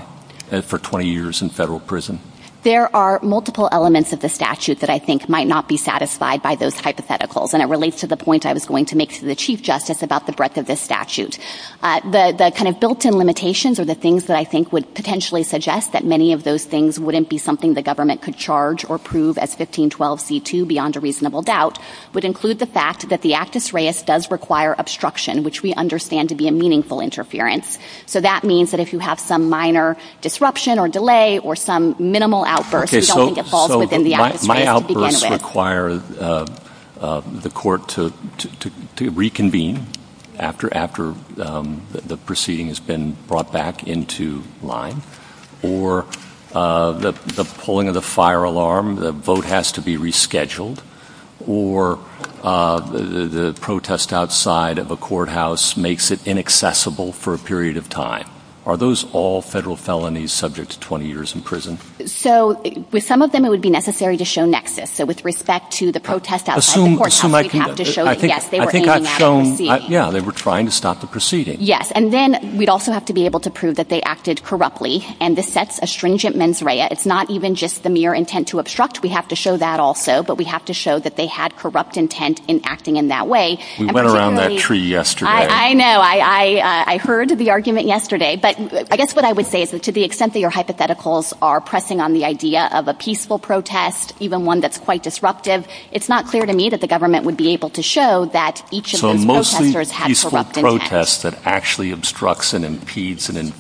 for 20 years in federal prison? There are multiple elements of the statute that I think might not be satisfied by those hypotheticals, and it relates to the point I was going to make to the Chief Justice about the breadth of this statute. The kind of built-in limitations are the things that I think would potentially suggest that many of those things wouldn't be something the government could charge or prove as 1512 C-2 beyond a reasonable doubt would include the fact that the actus reus does require obstruction, which we understand to be a meaningful interference. So that means that if you have some minor disruption or delay or some minimal outburst, you don't think it falls within the actus reus. Does the actus reus first require the court to reconvene after the proceeding has been brought back into line? Or the pulling of the fire alarm, the vote has to be rescheduled? Or the protest outside of a courthouse makes it inaccessible for a period of time? Are those all federal felonies subject to 20 years in prison? So with some of them, it would be necessary to show nexus. So with respect to the protest outside the courthouse, we'd have to show that, yes, they were aiming at a proceeding. Yeah, they were trying to stop the proceeding. Yes, and then we'd also have to be able to prove that they acted corruptly, and this sets a stringent mens rea. It's not even just the mere intent to obstruct. We have to show that also, but we have to show that they had corrupt intent in acting in that way. We went around that tree yesterday. I know. I heard the argument yesterday. But I guess what I would say is that to the extent that your hypotheticals are pressing on the idea of a peaceful protest, even one that's quite disruptive, it's not clear to me that the government would be able to show that each of those protesters had corrupt intent. So mostly peaceful protests that actually obstructs and impedes an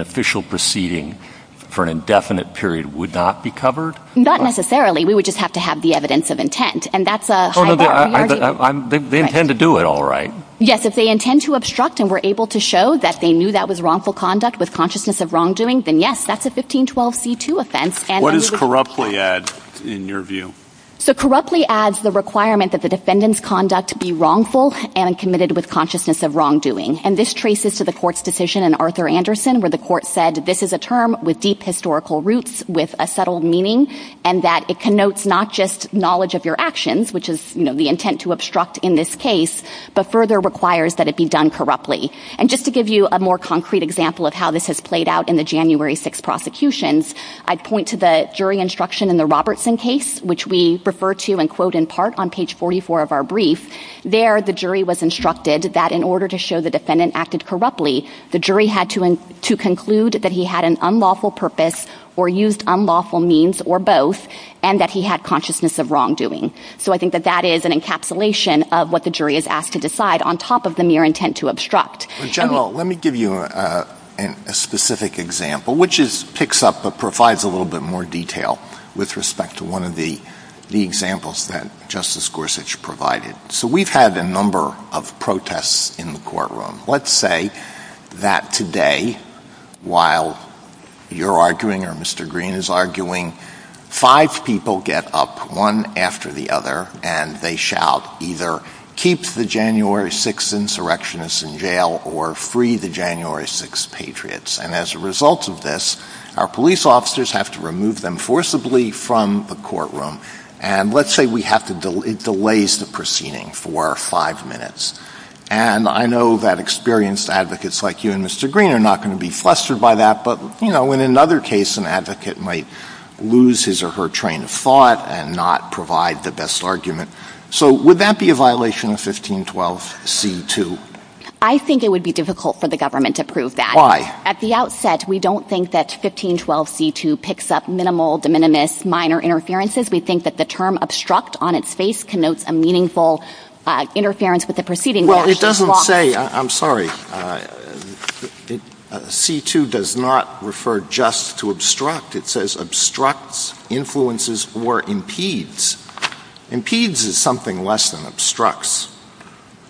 official proceeding for an indefinite period would not be covered? Not necessarily. We would just have to have the evidence of intent, and that's a high-value argument. They intend to do it, all right. Yes, if they intend to obstruct and were able to show that they knew that was wrongful conduct with consciousness of wrongdoing, then yes, that's a 1512c2 offense. What does corruptly add in your view? So corruptly adds the requirement that the defendant's conduct be wrongful and committed with consciousness of wrongdoing. And this traces to the court's decision in Arthur Anderson where the court said this is a term with deep historical roots, with a subtle meaning, and that it connotes not just knowledge of your actions, which is the intent to obstruct in this case, but further requires that it be done corruptly. And just to give you a more concrete example of how this has played out in the January 6th prosecutions, I'd point to the jury instruction in the Robertson case, which we refer to and quote in part on page 44 of our brief. There the jury was instructed that in order to show the defendant acted corruptly, the jury had to conclude that he had an unlawful purpose or used unlawful means or both and that he had consciousness of wrongdoing. So I think that that is an encapsulation of what the jury is asked to decide on top of the mere intent to obstruct. General, let me give you a specific example, which picks up but provides a little bit more detail with respect to one of the examples that Justice Gorsuch provided. So we've had a number of protests in the courtroom. Let's say that today while you're arguing or Mr. Green is arguing, five people get up one after the other and they shout either keep the January 6th insurrectionists in jail or free the January 6th patriots. And as a result of this, our police officers have to remove them forcibly from the courtroom. And let's say it delays the proceeding for five minutes. And I know that experienced advocates like you and Mr. Green are not going to be flustered by that, but in another case, an advocate might lose his or her train of thought and not provide the best argument. So would that be a violation of 1512C2? I think it would be difficult for the government to prove that. Why? At the outset, we don't think that 1512C2 picks up minimal, de minimis, minor interferences. We think that the term obstruct on its face connotes a meaningful interference with the proceeding. Well, it doesn't say, I'm sorry, C2 does not refer just to obstruct. It says obstructs, influences, or impedes. Impedes is something less than obstructs.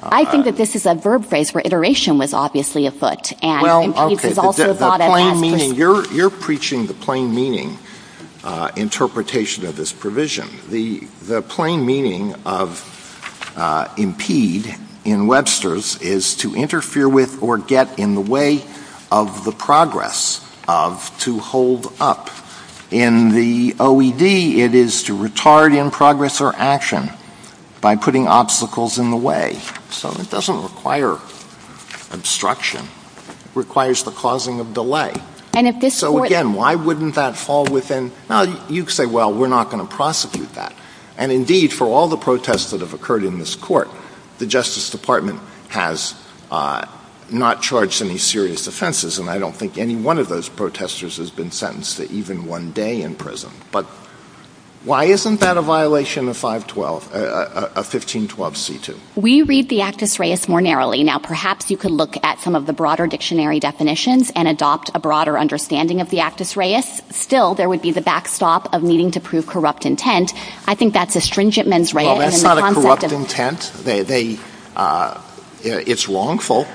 I think that this is a verb phrase for iteration with obviously a foot. Well, okay, but the plain meaning, you're preaching the plain meaning interpretation of this provision. The plain meaning of impede in Webster's is to interfere with or get in the way of the progress of to hold up. In the OED, it is to retard in progress or action by putting obstacles in the way. So it doesn't require obstruction. It requires the causing of delay. So again, why wouldn't that fall within? You could say, well, we're not going to prosecute that. And indeed, for all the protests that have occurred in this court, the Justice Department has not charged any serious offenses. And I don't think any one of those protesters has been sentenced to even one day in prison. But why isn't that a violation of 512, a 1512 C2? We read the Actus Reis more narrowly. Now, perhaps you could look at some of the broader dictionary definitions and adopt a broader understanding of the Actus Reis. Still, there would be the backstop of needing to prove corrupt intent. I think that's a stringent mens rea. Well, that's not a corrupt intent. It's wrongful.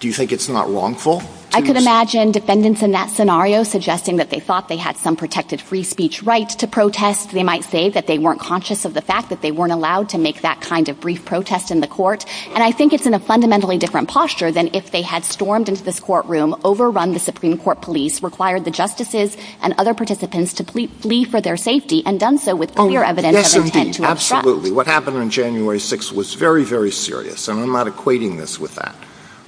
Do you think it's not wrongful? I could imagine defendants in that scenario suggesting that they thought they had some protected free speech right to protest. They might say that they weren't conscious of the fact that they weren't allowed to make that kind of brief protest in the court. And I think it's in a fundamentally different posture than if they had stormed into this courtroom, overrun the Supreme Court police, required the justices and other participants to plea for their safety, and done so with clear evidence of intent to obstruct. Absolutely. What happened on January 6th was very, very serious. And I'm not equating this with that.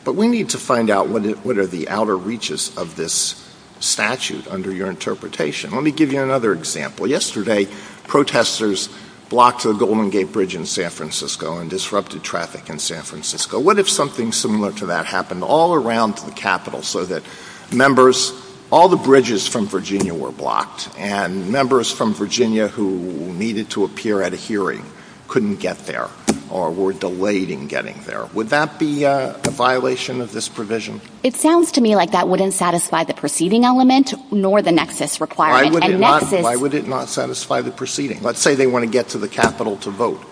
But we need to find out what are the outer reaches of this statute under your interpretation. Let me give you another example. Yesterday, protesters blocked the Golden Gate Bridge in San Francisco and disrupted traffic in San Francisco. What if something similar to that happened all around the Capitol so that all the bridges from Virginia were blocked and members from Virginia who needed to appear at a hearing couldn't get there or were delayed in getting there? Would that be a violation of this provision? It sounds to me like that wouldn't satisfy the proceeding element nor the nexus requirement. Why would it not satisfy the proceeding? Let's say they want to get to the Capitol to vote.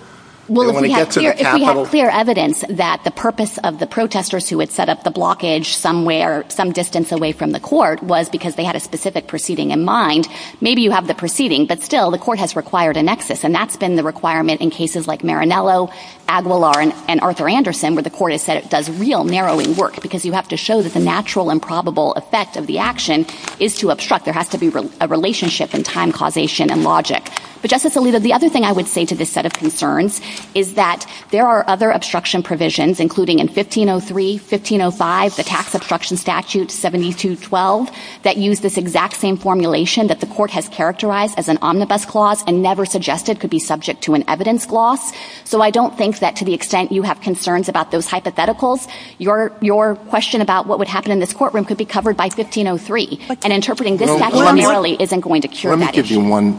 Well, if we have clear evidence that the purpose of the protesters who had set up the blockage somewhere some distance away from the court was because they had a specific proceeding in mind, maybe you have the proceeding, but still the court has required a nexus. And that's been the requirement in cases like Maranello, Aguilar, and Arthur Anderson where the court has said it does real narrowing work because you have to show that the natural and probable effect of the action is to obstruct. There has to be a relationship in time causation and logic. But, Justice Alito, the other thing I would say to this set of concerns is that there are other obstruction provisions, including in 1503, 1505, the Tax Obstruction Statute 7212 that use this exact same formulation that the court has characterized as an omnibus clause and never suggested could be subject to an evidence clause. So I don't think that to the extent you have concerns about those hypotheticals, your question about what would happen in this courtroom could be covered by 1503. And interpreting this exactly similarly isn't going to cure that issue. Let me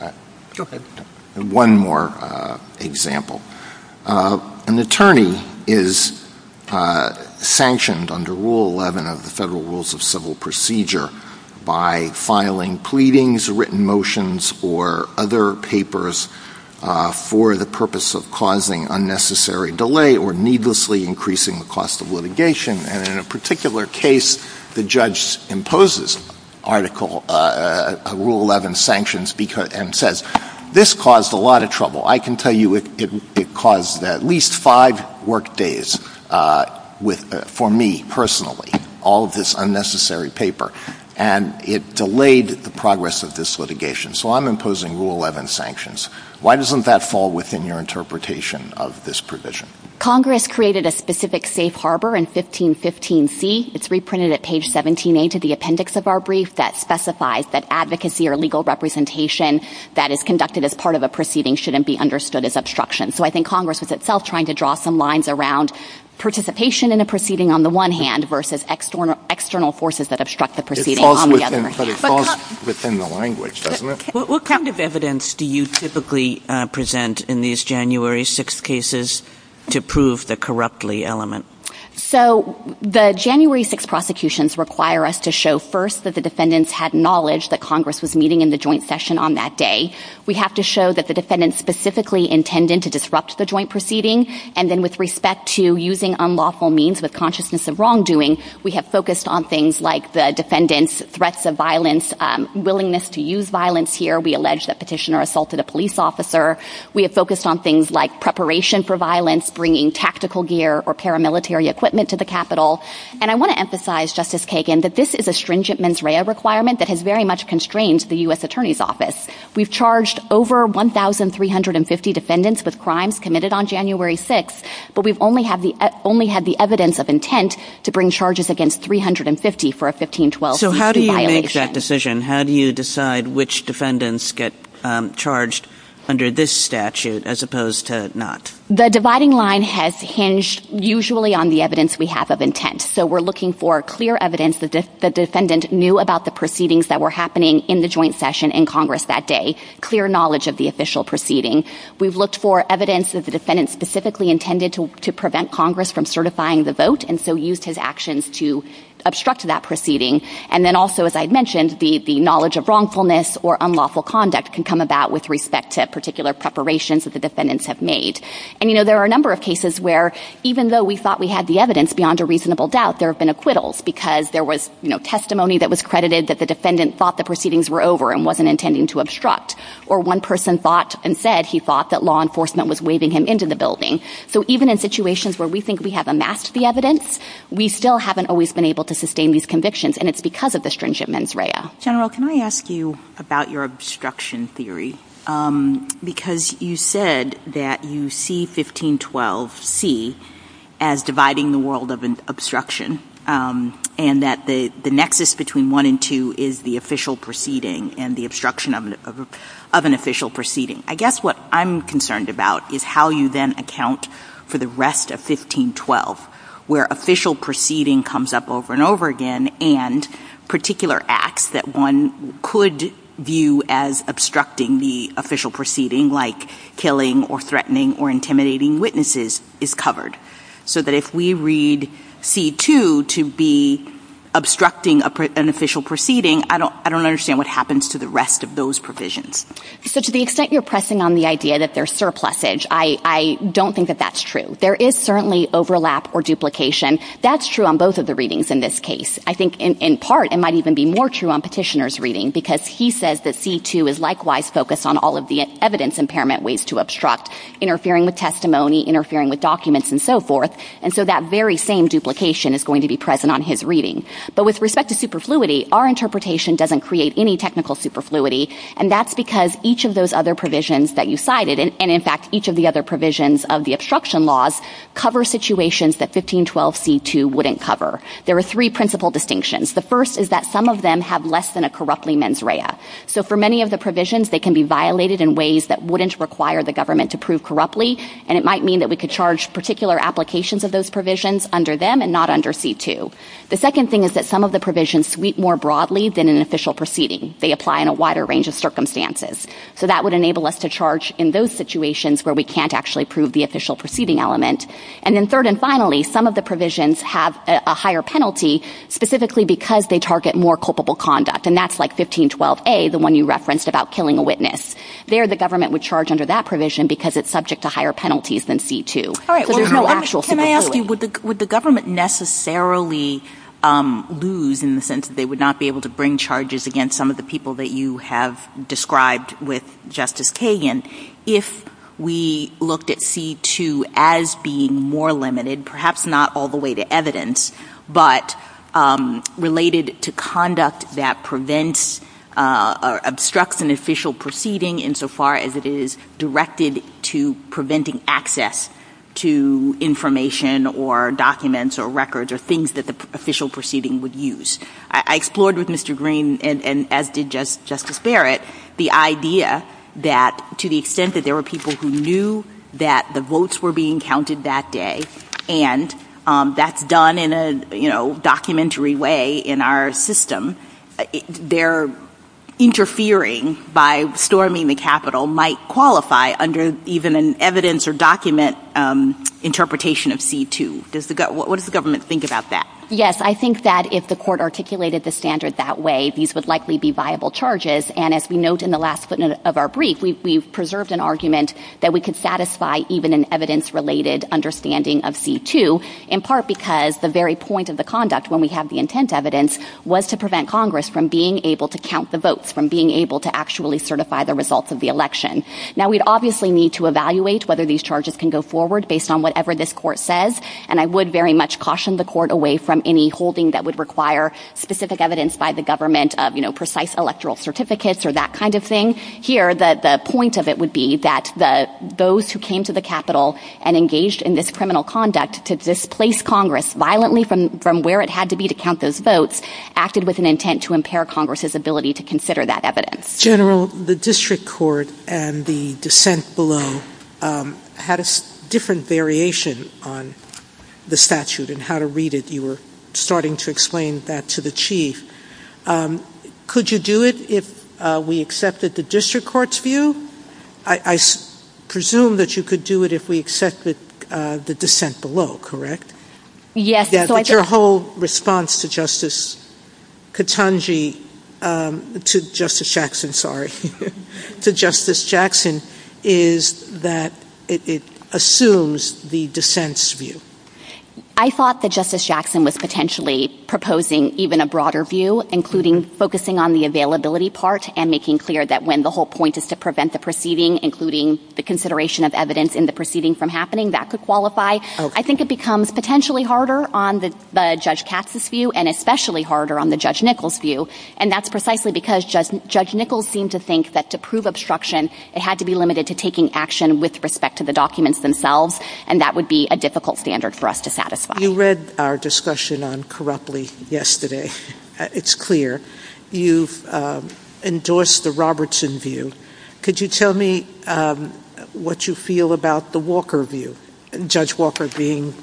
give you one more example. An attorney is sanctioned under Rule 11 of the Federal Rules of Civil Procedure by filing pleadings, written motions, or other papers for the purpose of causing unnecessary delay or needlessly increasing the cost of litigation. And in a particular case, the judge imposes Article Rule 11 sanctions and says, this caused a lot of trouble. I can tell you it caused at least five work days for me, personally, all of this unnecessary paper. And it delayed the progress of this litigation. So I'm imposing Rule 11 sanctions. Why doesn't that fall within your interpretation of this provision? Congress created a specific safe harbor in 1515C. It's reprinted at page 17A to the appendix of our brief that specifies that advocacy or legal representation that is conducted as part of a proceeding shouldn't be understood as obstruction. So I think Congress is itself trying to draw some lines around participation in a proceeding on the one hand versus external forces that obstruct the proceeding on the other. So it falls within the language, doesn't it? What kind of evidence do you typically present in these January 6th cases to prove the corruptly element? So the January 6th prosecutions require us to show first that the defendants had knowledge that Congress was meeting in the joint session on that day. We have to show that the defendants specifically intended to disrupt the joint proceeding. And then with respect to using unlawful means with consciousness of wrongdoing, we have focused on things like the defendants' threats of violence, willingness to use violence here. We allege that petitioner assaulted a police officer. We have focused on things like preparation for violence, bringing tactical gear or paramilitary equipment to the Capitol. And I want to emphasize, Justice Kagan, that this is a stringent mens rea requirement that has very much constrained the U.S. Attorney's Office. We've charged over 1,350 defendants with crimes committed on January 6th, but we've only had the evidence of intent to bring charges against 350 for a 1512 violation. So how do you make that decision? How do you decide which defendants get charged under this statute as opposed to not? The dividing line has hinged usually on the evidence we have of intent. So we're looking for clear evidence that the defendant knew about the proceedings that were happening in the joint session in Congress that day, clear knowledge of the official proceeding. We've looked for evidence that the defendant specifically intended to prevent Congress from certifying the vote, and so used his actions to obstruct that proceeding. And then also, as I mentioned, the knowledge of wrongfulness or unlawful conduct can come about with respect to particular preparations that the defendants have made. And, you know, there are a number of cases where even though we thought we had the evidence beyond a reasonable doubt, there have been acquittals because there was testimony that was credited that the defendant thought the proceedings were over and wasn't intending to obstruct. Or one person thought and said he thought that law enforcement was waving him into the building. So even in situations where we think we have amassed the evidence, we still haven't always been able to sustain these convictions, and it's because of the stringent mens rea. General, can I ask you about your obstruction theory? Because you said that you see 1512c as dividing the world of an obstruction and that the nexus between 1 and 2 is the official proceeding and the obstruction of an official proceeding. I guess what I'm concerned about is how you then account for the rest of 1512, where official proceeding comes up over and over again and particular acts that one could view as obstructing the official proceeding, like killing or threatening or intimidating witnesses, is covered. So that if we read c. 2 to be obstructing an official proceeding, I don't understand what happens to the rest of those provisions. So to the extent you're pressing on the idea that there's surplusage, I don't think that that's true. There is certainly overlap or duplication. That's true on both of the readings in this case. I think in part it might even be more true on Petitioner's reading because he says that c. 2 is likewise focused on all of the evidence impairment ways to obstruct, interfering with testimony, interfering with documents and so forth, and so that very same duplication is going to be present on his reading. But with respect to superfluity, our interpretation doesn't create any technical superfluity, and that's because each of those other provisions that you cited, and in fact each of the other provisions of the obstruction laws, cover situations that 1512 c. 2 wouldn't cover. There are three principal distinctions. The first is that some of them have less than a corruptly mens rea. So for many of the provisions, they can be violated in ways that wouldn't require the government to prove corruptly, and it might mean that we could charge particular applications of those provisions under them and not under c. 2. The second thing is that some of the provisions sweep more broadly than an official proceeding. They apply in a wider range of circumstances. So that would enable us to charge in those situations where we can't actually prove the official proceeding element. And then third and finally, some of the provisions have a higher penalty specifically because they target more culpable conduct, and that's like 1512 a, the one you referenced about killing a witness. There the government would charge under that provision because it's subject to higher penalties than c. 2. So there's no actual superfluity. Can I ask you, would the government necessarily lose in the sense that they would not be able to bring charges against some of the people that you have described with Justice Kagan if we looked at c. 2 as being more limited, perhaps not all the way to evidence, but related to conduct that prevents or obstructs an official proceeding insofar as it is directed to preventing access to information or documents or records or things that the official proceeding would use? I explored with Mr. Green, and as did Justice Barrett, the idea that to the extent that there were people who knew that the votes were being counted that day, and that's done in a documentary way in our system, their interfering by storming the Capitol might qualify under even an evidence or document interpretation of c. 2. What does the government think about that? Yes, I think that if the court articulated the standard that way, these would likely be viable charges, and as we note in the last minute of our brief, we've preserved an argument that we could satisfy even an evidence-related understanding of c. 2, in part because the very point of the conduct when we have the intent evidence was to prevent Congress from being able to count the votes, from being able to actually certify the results of the election. Now, we'd obviously need to evaluate whether these charges can go forward based on whatever this court says, and I would very much caution the court away from any holding that would require specific evidence by the government of precise electoral certificates or that kind of thing. Here, the point of it would be that those who came to the Capitol and engaged in this criminal conduct to displace Congress violently from where it had to be to count those votes acted with an intent to impair Congress's ability to consider that evidence. General, the district court and the dissent below had a different variation on the statute and how to read it. You were starting to explain that to the chief. Could you do it if we accepted the district court's view? I presume that you could do it if we accepted the dissent below, correct? Yes. But your whole response to Justice Katonji, to Justice Jackson, sorry, to Justice Jackson is that it assumes the dissent's view. I thought that Justice Jackson was potentially proposing even a broader view, including focusing on the availability part and making clear that when the whole point is to prevent the proceeding, including the consideration of evidence in the proceeding from happening, that could qualify. I think it becomes potentially harder on the Judge Katz's view and especially harder on the Judge Nichols' view, and that's precisely because Judge Nichols seemed to think that to prove obstruction, it had to be limited to taking action with respect to the documents themselves, and that would be a difficult standard for us to satisfy. You read our discussion on corruptly yesterday. It's clear. You've endorsed the Robertson view. Could you tell me what you feel about the Walker view, Judge Walker being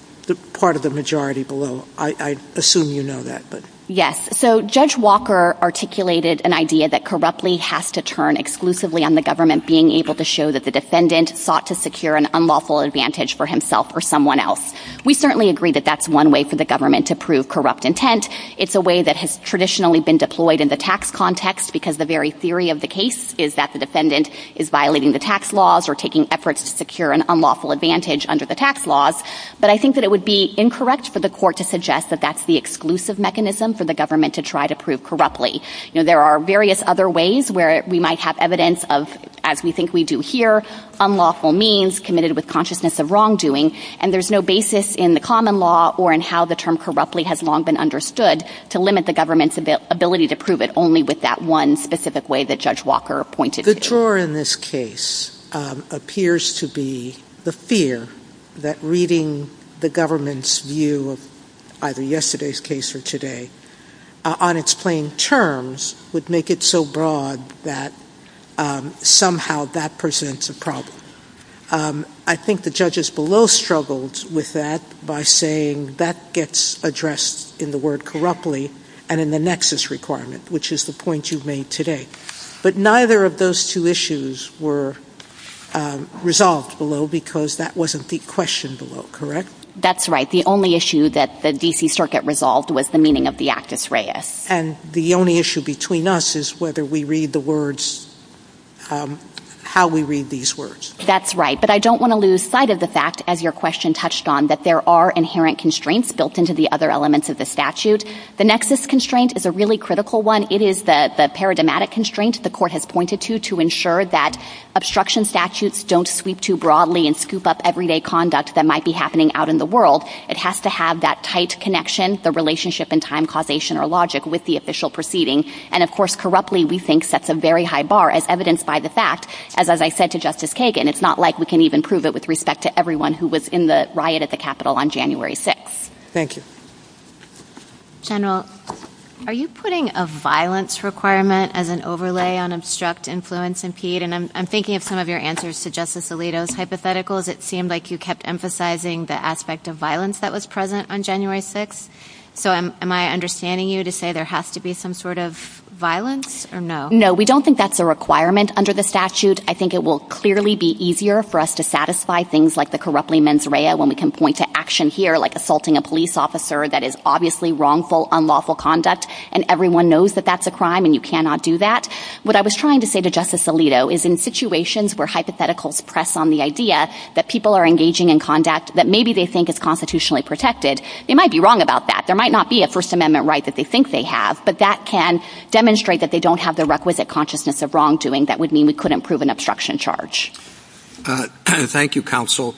part of the majority below? I assume you know that. Yes. So Judge Walker articulated an idea that corruptly has to turn exclusively on the government being able to show that the defendant sought to secure an unlawful advantage for himself or someone else. We certainly agree that that's one way for the government to prove corrupt intent. It's a way that has traditionally been deployed in the tax context because the very theory of the case is that the defendant is violating the tax laws or taking efforts to secure an unlawful advantage under the tax laws, but I think that it would be incorrect for the court to suggest that that's the exclusive mechanism for the government to try to prove corruptly. There are various other ways where we might have evidence of, as we think we do here, unlawful means committed with consciousness of wrongdoing, and there's no basis in the common law or in how the term corruptly has long been understood to limit the government's ability to prove it only with that one specific way that Judge Walker pointed to. The drawer in this case appears to be the fear that reading the government's view of either yesterday's case or today on its plain terms would make it so broad that somehow that presents a problem. I think the judges below struggled with that by saying that gets addressed in the word corruptly and in the nexus requirement, which is the point you've made today. But neither of those two issues were resolved below because that wasn't the question below, correct? That's right. The only issue that the D.C. Circuit resolved was the meaning of the actus reus. And the only issue between us is whether we read the words, how we read these words. That's right, but I don't want to lose sight of the fact, as your question touched on, that there are inherent constraints built into the other elements of the statute. The nexus constraint is a really critical one. It is the paradigmatic constraint the court has pointed to to ensure that obstruction statutes don't sweep too broadly and scoop up everyday conduct that might be happening out in the world. It has to have that tight connection, the relationship in time, causation, or logic with the official proceeding. And, of course, corruptly we think sets a very high bar, as evidenced by the fact, as I said to Justice Kagan, it's not like we can even prove it with respect to everyone who was in the riot at the Capitol on January 6th. Thank you. General, are you putting a violence requirement as an overlay on obstruct, influence, impede? And I'm thinking of some of your answers to Justice Alito's hypotheticals. It seemed like you kept emphasizing the aspect of violence that was present on January 6th. So am I understanding you to say there has to be some sort of violence or no? No, we don't think that's a requirement under the statute. I think it will clearly be easier for us to satisfy things like the corruptly mens rea when we can point to action here like assaulting a police officer that is obviously wrongful, unlawful conduct, and everyone knows that that's a crime and you cannot do that. What I was trying to say to Justice Alito is in situations where hypotheticals press on the idea that people are engaging in conduct that maybe they think is constitutionally protected, they might be wrong about that. There might not be a First Amendment right that they think they have, but that can demonstrate that they don't have the requisite consciousness of wrongdoing that would mean we couldn't prove an obstruction charge. Thank you, Counsel.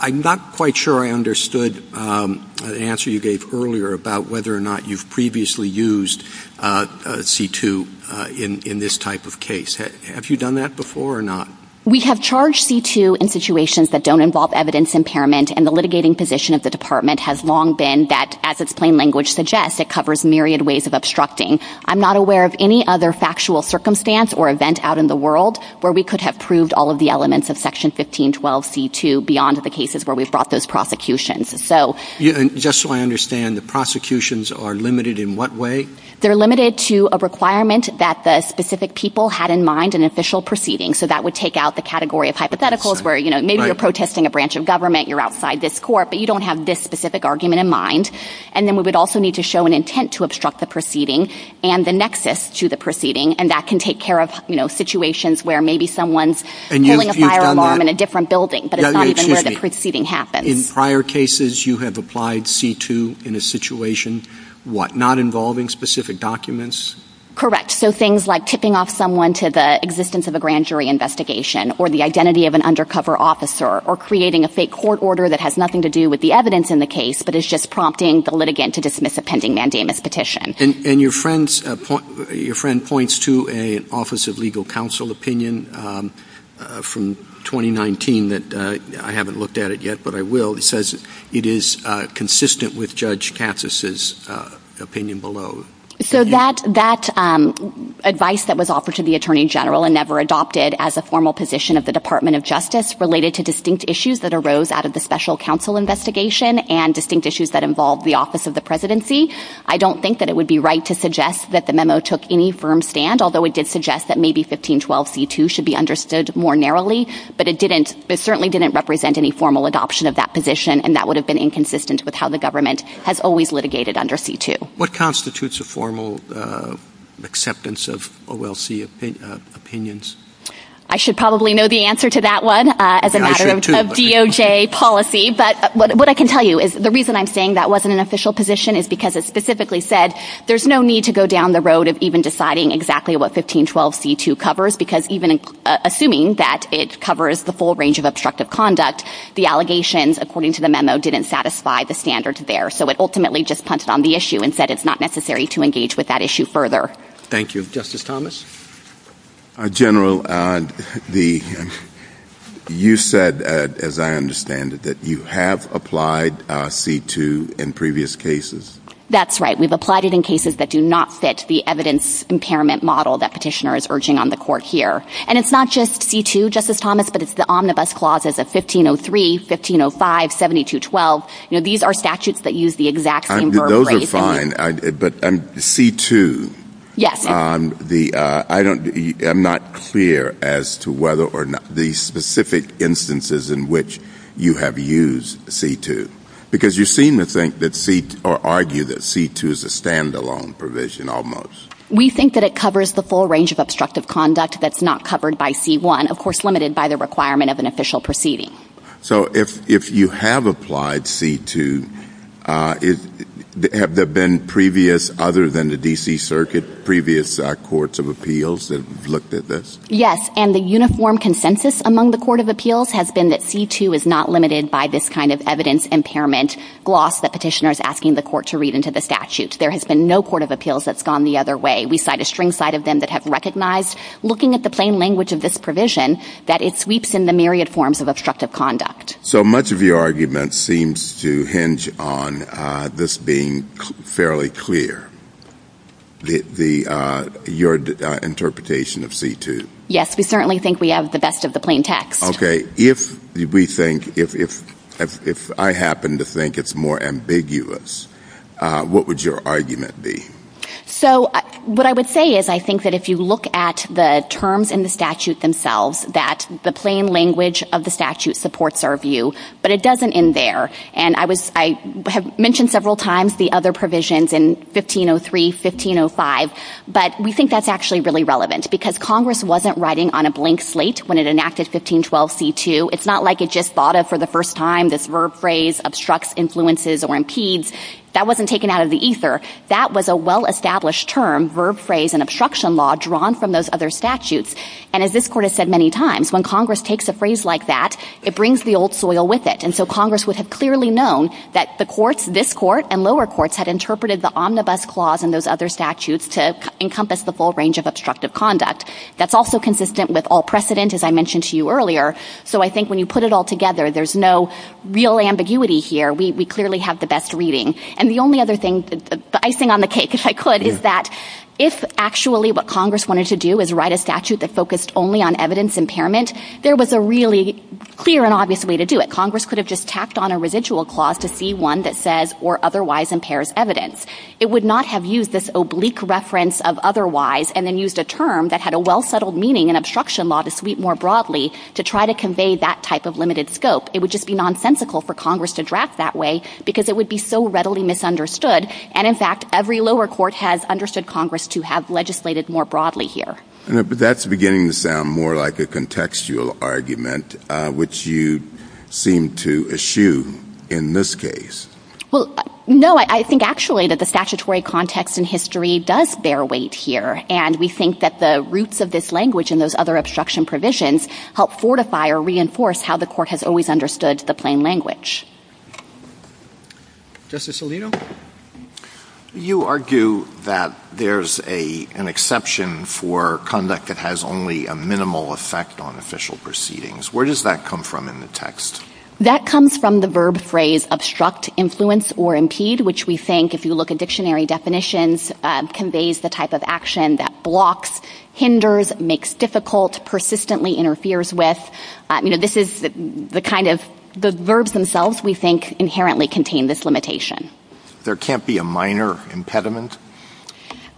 I'm not quite sure I understood the answer you gave earlier about whether or not you've previously used C-2 in this type of case. Have you done that before or not? We have charged C-2 in situations that don't involve evidence impairment and the litigating position of the Department has long been that, as its plain language suggests, it covers myriad ways of obstructing. I'm not aware of any other factual circumstance or event out in the world where we could have proved all of the elements of Section 1512 C-2 beyond the cases where we've brought those prosecutions. Just so I understand, the prosecutions are limited in what way? They're limited to a requirement that the specific people had in mind an official proceeding. So that would take out the category of hypotheticals where maybe you're protesting a branch of government, you're outside this court, but you don't have this specific argument in mind. And then we would also need to show an intent to obstruct the proceeding and the nexus to the proceeding, and that can take care of, you know, situations where maybe someone's pulling a fire alarm in a different building, but it's not even though the proceeding happened. In prior cases, you have applied C-2 in a situation, what, not involving specific documents? Correct. So things like tipping off someone to the existence of a grand jury investigation, or the identity of an undercover officer, or creating a fake court order that has nothing to do with the evidence in the case, but is just prompting the litigant to dismiss a pending mandamus petition. And your friend points to an Office of Legal Counsel opinion from 2019 that, I haven't looked at it yet, but I will. It says it is consistent with Judge Katsas' opinion below. So that advice that was offered to the Attorney General and never adopted as a formal position of the Department of Justice related to distinct issues that arose out of the special counsel investigation and distinct issues that involved the Office of the Presidency, I don't think that it would be right to suggest that the memo took any firm stand, although it did suggest that maybe 1512 C-2 should be understood more narrowly. But it didn't, it certainly didn't represent any formal adoption of that position, and that would have been inconsistent with how the government has always litigated under C-2. What constitutes a formal acceptance of OLC opinions? I should probably know the answer to that one as a matter of DOJ policy. But what I can tell you is the reason I'm saying that wasn't an official position is because it specifically said there's no need to go down the road of even deciding exactly what 1512 C-2 covers, because even assuming that it covers the full range of obstructive conduct, the allegations, according to the memo, didn't satisfy the standards there. So it ultimately just punted on the issue and said it's not necessary to engage with that issue further. Thank you. Justice Thomas? General, you said, as I understand it, that you have applied C-2 in previous cases. That's right. We've applied it in cases that do not fit the evidence impairment model that Petitioner is urging on the Court here. And it's not just C-2, Justice Thomas, but it's the omnibus clauses of 1503, 1505, 1712. These are statutes that use the exact same verb phrase. Those are fine, but C-2. Yes. I'm not clear as to whether or not the specific instances in which you have used C-2, because you seem to think or argue that C-2 is a standalone provision almost. We think that it covers the full range of obstructive conduct that's not covered by C-1, of course limited by the requirement of an official proceeding. So if you have applied C-2, have there been previous, other than the D.C. Circuit, previous courts of appeals that looked at this? Yes. And the uniform consensus among the court of appeals has been that C-2 is not limited by this kind of evidence impairment gloss that Petitioner is asking the court to read into the statute. There has been no court of appeals that's gone the other way. We cite a string cite of them that have recognized, looking at the plain language of this provision, that it sweeps in the myriad forms of obstructive conduct. So much of your argument seems to hinge on this being fairly clear, your interpretation of C-2. Yes. We certainly think we have the best of the plain text. Okay. If we think, if I happen to think it's more ambiguous, what would your argument be? So what I would say is I think that if you look at the terms in the statute themselves, that the plain language of the statute supports our view, but it doesn't end there. And I have mentioned several times the other provisions in 1503, 1505, but we think that's actually really relevant because Congress wasn't writing on a blank slate when it enacted 1512 C-2. It's not like it just thought of for the first time this verb phrase, obstructs, influences, or impedes. That wasn't taken out of the ether. That was a well-established term, verb phrase, and obstruction law drawn from those other statutes. And as this court has said many times, when Congress takes a phrase like that, it brings the old soil with it. And so Congress would have clearly known that the courts, this court and lower courts, had interpreted the omnibus clause in those other statutes to encompass the full range of obstructive conduct. That's also consistent with all precedent, as I mentioned to you earlier. So I think when you put it all together, there's no real ambiguity here. We clearly have the best reading. And the only other thing, the icing on the cake, if I could, is that if actually what Congress wanted to do is write a statute that focused only on evidence impairment, there was a really clear and obvious way to do it. Congress could have just tacked on a residual clause to see one that says or otherwise impairs evidence. It would not have used this oblique reference of otherwise and then used a term that had a well-settled meaning in obstruction law to sweep more broadly to try to convey that type of limited scope. It would just be nonsensical for Congress to draft that way because it would be so readily misunderstood. And, in fact, every lower court has understood Congress to have legislated more broadly here. But that's beginning to sound more like a contextual argument, which you seem to eschew in this case. Well, no, I think actually that the statutory context in history does bear weight here. And we think that the roots of this language and those other obstruction provisions help fortify or reinforce how the court has always understood the law. Justice Alito? You argue that there's an exception for conduct that has only a minimal effect on official proceedings. Where does that come from in the text? That comes from the verb phrase obstruct, influence, or impede, which we think, if you look at dictionary definitions, conveys the type of action that blocks, hinders, makes difficult, persistently interferes with. The verbs themselves, we think, inherently contain this limitation. There can't be a minor impediment?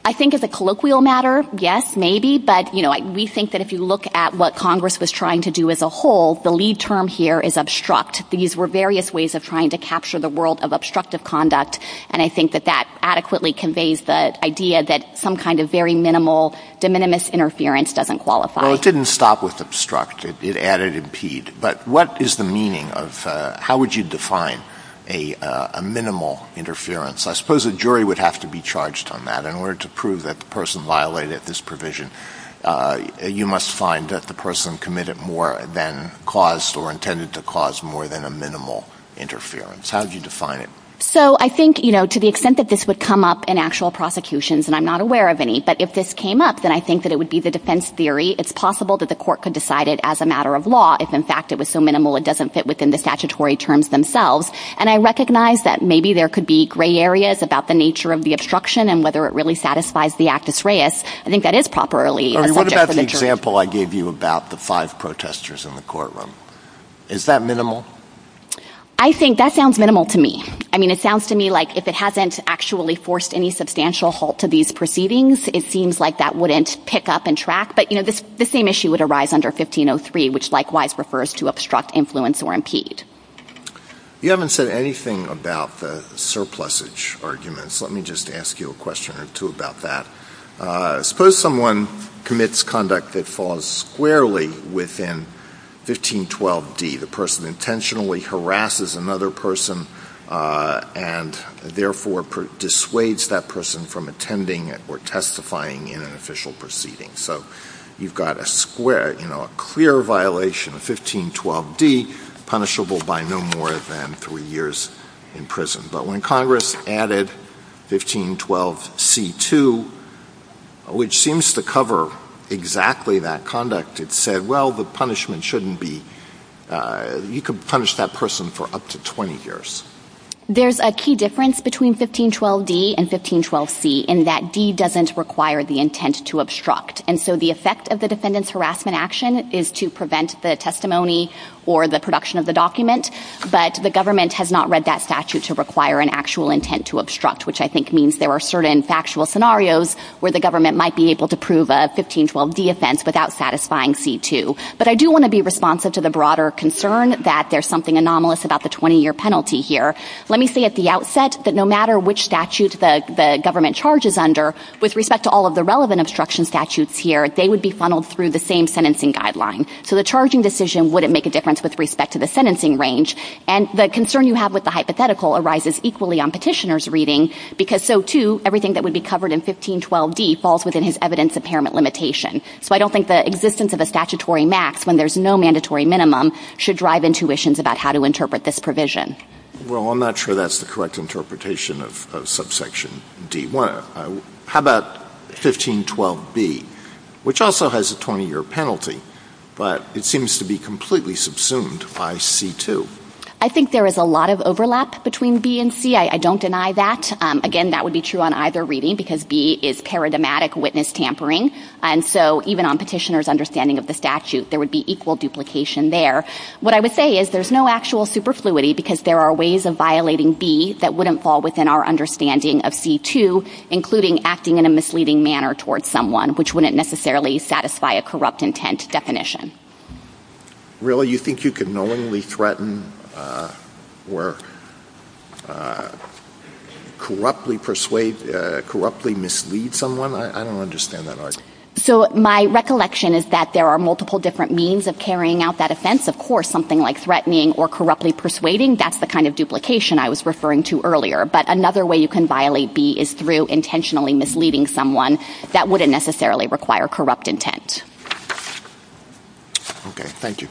I think as a colloquial matter, yes, maybe. But we think that if you look at what Congress was trying to do as a whole, the lead term here is obstruct. These were various ways of trying to capture the world of obstructive conduct. And I think that that adequately conveys the idea that some kind of very minimal, de minimis interference doesn't qualify. So it didn't stop with obstruct. It added impede. But what is the meaning of, how would you define a minimal interference? I suppose a jury would have to be charged on that. In order to prove that the person violated this provision, you must find that the person committed more than caused or intended to cause more than a minimal interference. How would you define it? So I think, you know, to the extent that this would come up in actual prosecutions, and I'm not aware of any, but if this came up, then I think that it would be the defense theory. It's possible that the court could decide it as a matter of law. If in fact it was so minimal, it doesn't fit within the statutory terms themselves. And I recognize that maybe there could be gray areas about the nature of the obstruction and whether it really satisfies the actus reus. I think that is properly. What about the example I gave you about the five protesters in the courtroom? Is that minimal? I think that sounds minimal to me. I mean, it sounds to me like if it hasn't actually forced any substantial halt to these proceedings, it seems like that wouldn't pick up and track. But, you know, the same issue would arise under 1503, which likewise refers to obstruct, influence, or impede. You haven't said anything about the surplusage arguments. Let me just ask you a question or two about that. Suppose someone commits conduct that falls squarely within 1512D. The person intentionally harasses another person and therefore dissuades that person from attending or testifying in an official proceeding. So you've got a square, you know, a clear violation of 1512D punishable by no more than three years in prison. But when Congress added 1512C2, which seems to cover exactly that conduct, it said, well, the punishment shouldn't be, you can punish that person for up to 20 years. There's a key difference between 1512D and 1512C, in that D doesn't require the intent to obstruct. And so the effect of the defendant's harassment action is to prevent the testimony or the production of the document. But the government has not read that statute to require an actual intent to obstruct, which I think means there are certain factual scenarios where the government might be able to prove a 1512D offense without satisfying C2. But I do want to be responsive to the broader concern that there's something anomalous about the 20-year penalty here. Let me say at the outset that no matter which statute the government charges under, with respect to all of the relevant obstruction statutes here, they would be funneled through the same sentencing guideline. So the charging decision wouldn't make a difference with respect to the sentencing range. And the concern you have with the hypothetical arises equally on petitioner's reading, because so, too, everything that would be covered in 1512D falls within his evidence impairment limitation. So I don't think the existence of a statutory max when there's no mandatory minimum should drive intuitions about how to interpret this provision. Well, I'm not sure that's the correct interpretation of subsection D1. How about 1512B, which also has a 20-year penalty, but it seems to be completely subsumed by C2? I think there is a lot of overlap between B and C. I don't deny that. Again, that would be true on either reading, because B is paradigmatic witness tampering. And so even on petitioner's understanding of the statute, there would be equal duplication there. What I would say is there's no actual superfluity, because there are ways of violating B that wouldn't fall within our understanding of C2, including acting in a misleading manner towards someone, which wouldn't necessarily satisfy a corrupt intent definition. Really? You think you could knowingly threaten or corruptly mislead someone? I don't understand that argument. So my recollection is that there are multiple different means of carrying out that offense. Of course, something like threatening or corruptly persuading, that's the kind of duplication I was referring to earlier. But another way you can violate B is through intentionally misleading someone. That wouldn't necessarily require corrupt intent. Okay. Thank you.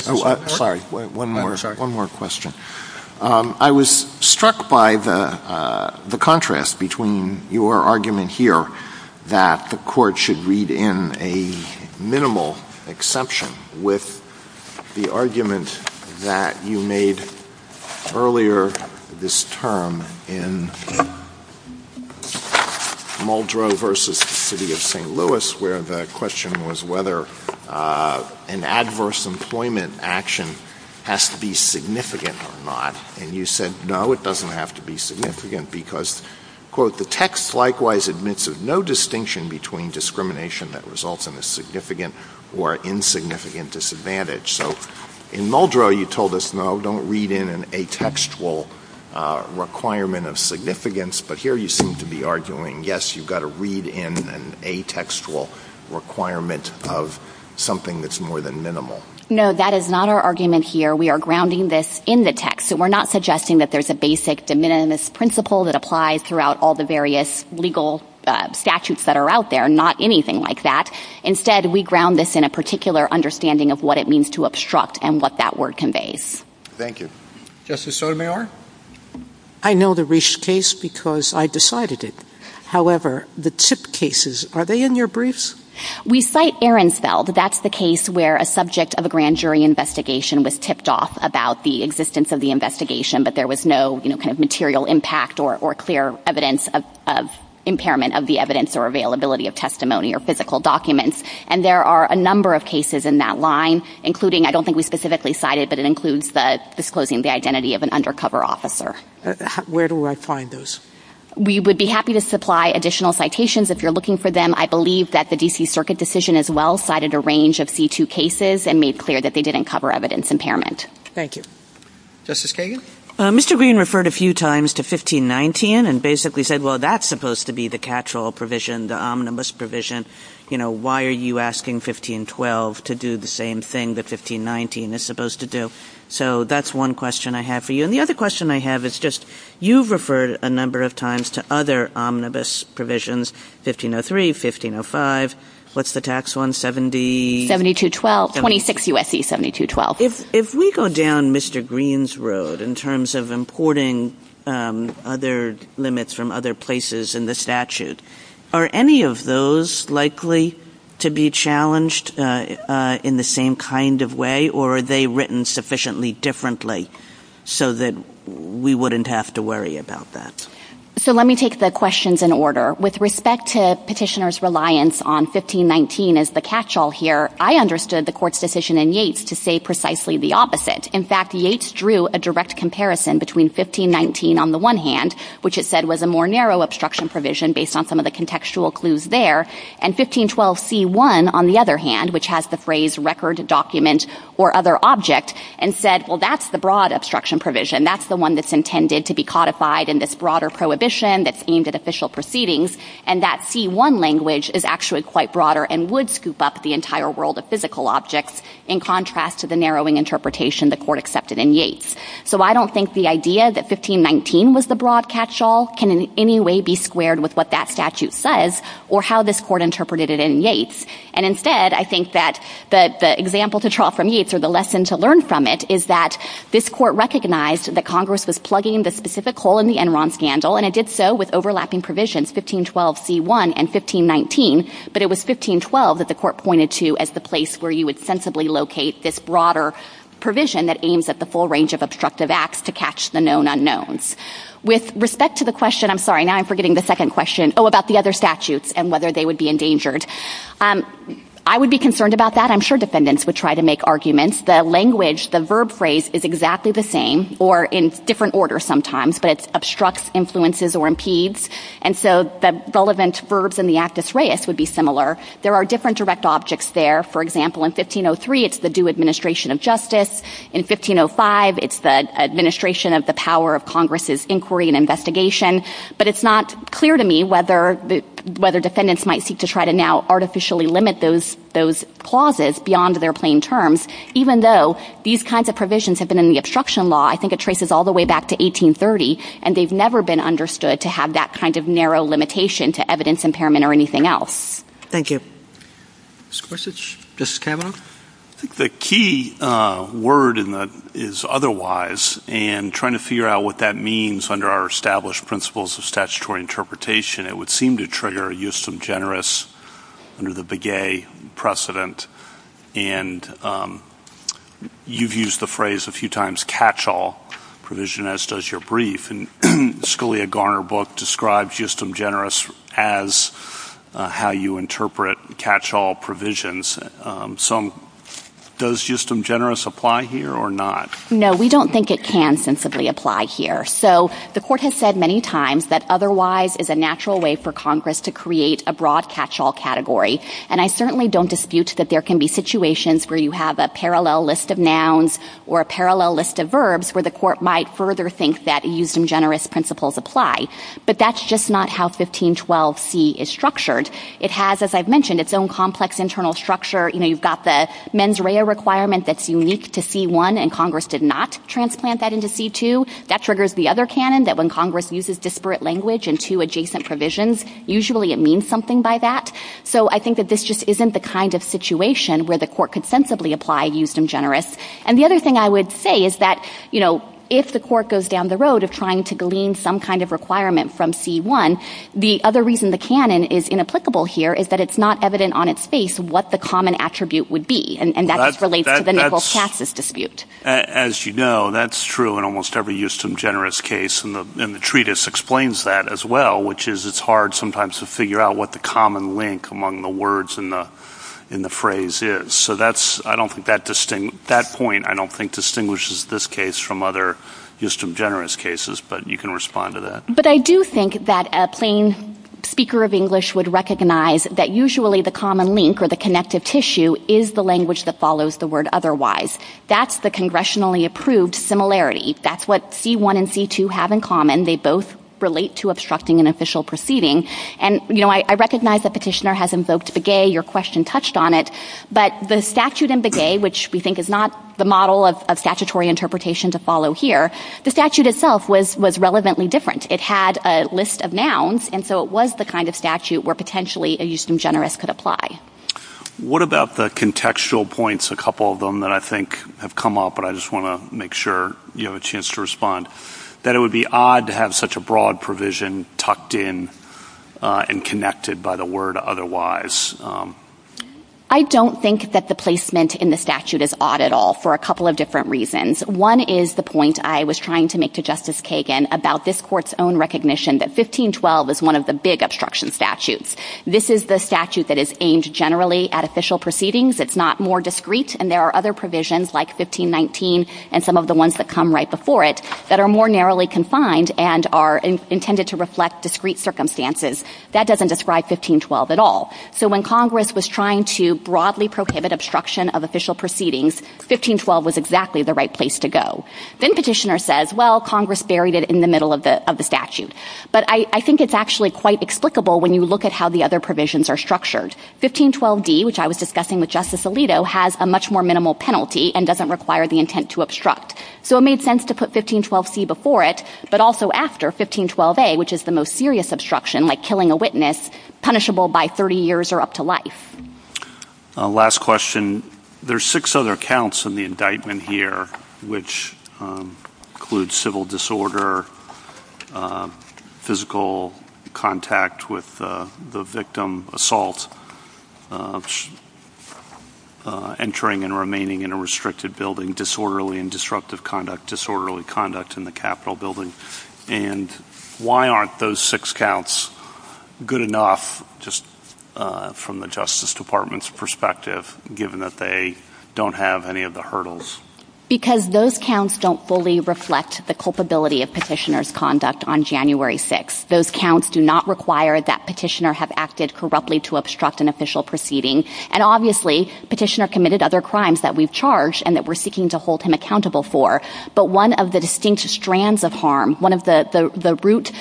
Sorry. One more question. I was struck by the contrast between your argument here that the court should read in a minimal exception with the argument that you made earlier this term in Muldrow v. City of St. Louis, where the question was whether an adverse employment action has to be significant or not. And you said, no, it doesn't have to be significant because, quote, the text likewise admits of no distinction between discrimination that results in a significant or insignificant disadvantage. So in Muldrow, you told us, no, don't read in an atextual requirement of significance. But here you seem to be arguing, yes, you've got to read in an atextual requirement of something that's more than minimal. No, that is not our argument here. We are grounding this in the text. So we're not suggesting that there's a basic de minimis principle that applies throughout all the various legal statutes that are out there, not anything like that. Instead, we ground this in a particular understanding of what it means to obstruct and what that word conveys. Thank you. Justice Sotomayor. I know the Risch case because I decided it. However, the tip cases, are they in your briefs? We cite Ehrenfeld. That's the case where a subject of a grand jury investigation was tipped off about the existence of the investigation, but there was no kind of material impact or clear evidence of impairment of the evidence or availability of testimony or physical documents. And there are a number of cases in that line, including, I don't think we specifically cited, but it includes disclosing the identity of an undercover officer. Where do I find those? We would be happy to supply additional citations if you're looking for them. I believe that the DC circuit decision as well cited a range of C2 cases and made clear that they didn't cover evidence impairment. Thank you. Justice Kagan. Mr. Green referred a few times to 1519 and basically said, well, that's supposed to be the catch-all provision, the omnibus provision. You know, why are you asking 1512 to do the same thing that 1519 is supposed to do? So that's one question I have for you. And the other question I have is just, you've referred a number of times to other omnibus provisions, 1503, 1505. What's the tax on 70? 7212. 26 U.S.C. 7212. If we go down Mr. Green's road in terms of importing other limits from other places in the statute, are any of those likely to be challenged in the same kind of way, or are they written sufficiently differently so that we wouldn't have to worry about that? So let me take the questions in order. With respect to petitioners' reliance on 1519 as the catch-all here, I understood the court's decision in Yates to say precisely the opposite. In fact, Yates drew a direct comparison between 1519 on the one hand, which it said was a more narrow obstruction provision based on some of the contextual clues there, and 1512C1 on the other hand, which has the phrase record document or other object, and said, well, that's the broad obstruction provision. That's the one that's intended to be codified in this broader prohibition that's aimed at official proceedings, and that C1 language is actually quite broader and would scoop up the entire world of physical objects in contrast to the narrowing interpretation the court accepted in Yates. So I don't think the idea that 1519 was the broad catch-all can in any way be squared with what that statute says or how this court interpreted it in Yates. And instead, I think that the example to draw from Yates or the lesson to learn from it is that this court recognized that Congress was plugging the specific hole in the law with overlapping provisions, 1512C1 and 1519, but it was 1512 that the court pointed to as the place where you would sensibly locate this broader provision that aims at the full range of obstructive acts to catch the known unknowns. With respect to the question, I'm sorry, now I'm forgetting the second question, oh, about the other statutes and whether they would be endangered. I would be concerned about that. I'm sure defendants would try to make arguments. The language, the verb phrase is exactly the same or in different order sometimes, but it obstructs influences or impedes. And so the relevant verbs in the actus reus would be similar. There are different direct objects there. For example, in 1503, it's the due administration of justice. In 1505, it's the administration of the power of Congress's inquiry and investigation, but it's not clear to me whether the, whether defendants might seek to try to now artificially limit those, those clauses beyond their plain terms, even though these kinds of provisions have been in the obstruction law. I think it traces all the way back to 1830 and they've never been understood to have that kind of narrow limitation to evidence impairment or anything else. Thank you. The key word in that is otherwise, and trying to figure out what that means under our established principles of statutory interpretation, it would seem to trigger a use of generous under the big A precedent. And you've used the phrase a few times, catch all provision as does your brief and Scalia Garner book describes just generous as how you interpret catch all provisions. Some does just some generous apply here or not? No, we don't think it can sensibly apply here. So the court has said many times that otherwise is a natural way for Congress to create a broad catch all category. And I certainly don't dispute that there can be situations where you have a broad catch all category, but that's just not how 1512 C is structured. It has, as I've mentioned, it's own complex internal structure. You know, you've got the mens rea requirement that's unique to C1 and Congress did not transplant that into C2. That triggers the other Canon that when Congress uses disparate language and two adjacent provisions, usually it means something by that. So I think that this just isn't the kind of situation where the court could sensibly apply used and generous. And the other thing I would say is that, you know, if the court goes down the road of trying to glean some kind of requirement from C1, the other reason the Canon is inapplicable here is that it's not evident on its face, what the common attribute would be. And that's related to the natural chastis dispute. As you know, that's true. And almost every used some generous case in the, in the treatise explains that as well, which is it's hard sometimes to figure out what the common link among the words in the, in the phrase is. So that's, I don't think that distinct, that point, I don't think distinguishes this case from other used to generous cases, but you can respond to that. But I do think that a plain speaker of English would recognize that usually the common link or the connective tissue is the language that follows the word. Otherwise that's the congressionally approved similarity. That's what C1 and C2 have in common. They both relate to obstructing an official proceeding. And, you know, I recognize that petitioner has invoked the gay, your question touched on it, but the statute and the gay, which we think is not the model of statutory interpretation to follow here. The statute itself was, was relevantly different. It had a list of nouns. And so it was the kind of statute where potentially a Houston generous could apply. What about the contextual points? A couple of them that I think have come up, but I just want to make sure you have a chance to respond that it would be odd to have such a broad provision tucked in and connected by the word. Otherwise. I don't think that the placement in the statute is odd at all for a couple of different reasons. One is the point I was trying to make to justice Kagan about this court's own recognition that 1512 is one of the big obstruction statutes. This is the statute that is aimed generally at official proceedings. It's not more discreet. And there are other provisions like 1519 and some of the ones that come right before it that are more narrowly confined and are intended to reflect discreet circumstances that doesn't describe 1512 at all. So when Congress was trying to broadly prohibit obstruction of official proceedings, 1512 was exactly the right place to go. Then petitioner says, well, Congress buried it in the middle of the, of the statute. But I think it's actually quite explicable when you look at how the other provisions are structured. 1512 D, which I was discussing with justice Alito has a much more minimal penalty and doesn't require the intent to obstruct. So it made sense to put 1512 C before it, but also after 1512 A, which is the most serious obstruction like killing a witness punishable by 30 years or up to life. Last question. There's six other accounts in the indictment here, which includes civil disorder, physical contact with the victim assault entering and remaining in a restricted building, disorderly and disruptive conduct, disorderly conduct in the Capitol building. And why aren't those six counts good enough? Just from the justice department's perspective, given that they don't have any of the hurdles because those counts don't fully reflect the culpability of petitioners conduct on January six, those counts do not require that petitioner have acted corruptly to obstruct an official proceeding. And obviously petitioner committed other crimes that we've charged and that we're seeking to hold him accountable for. But one of the distinct strands of harm, one of the root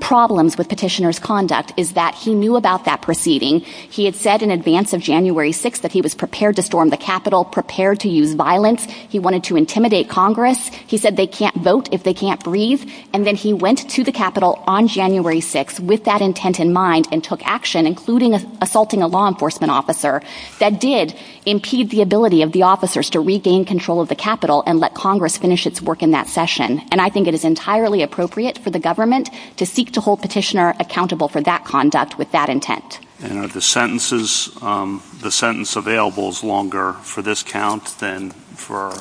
problems with petitioners conduct is that he knew about that proceeding. He had said in advance of January six, that he was prepared to storm the Capitol prepared to use violence. He wanted to intimidate Congress. He said they can't vote if they can't breathe. And then he went to the Capitol on January six with that intent in mind and took action, including assaulting a law enforcement officer that did impede the ability of the officers to regain control of the Capitol and let Congress finish its work in that session. And I think it is entirely appropriate for the government to seek to hold petitioner accountable for that conduct with that intent. The sentences, the sentence available is longer for this count than for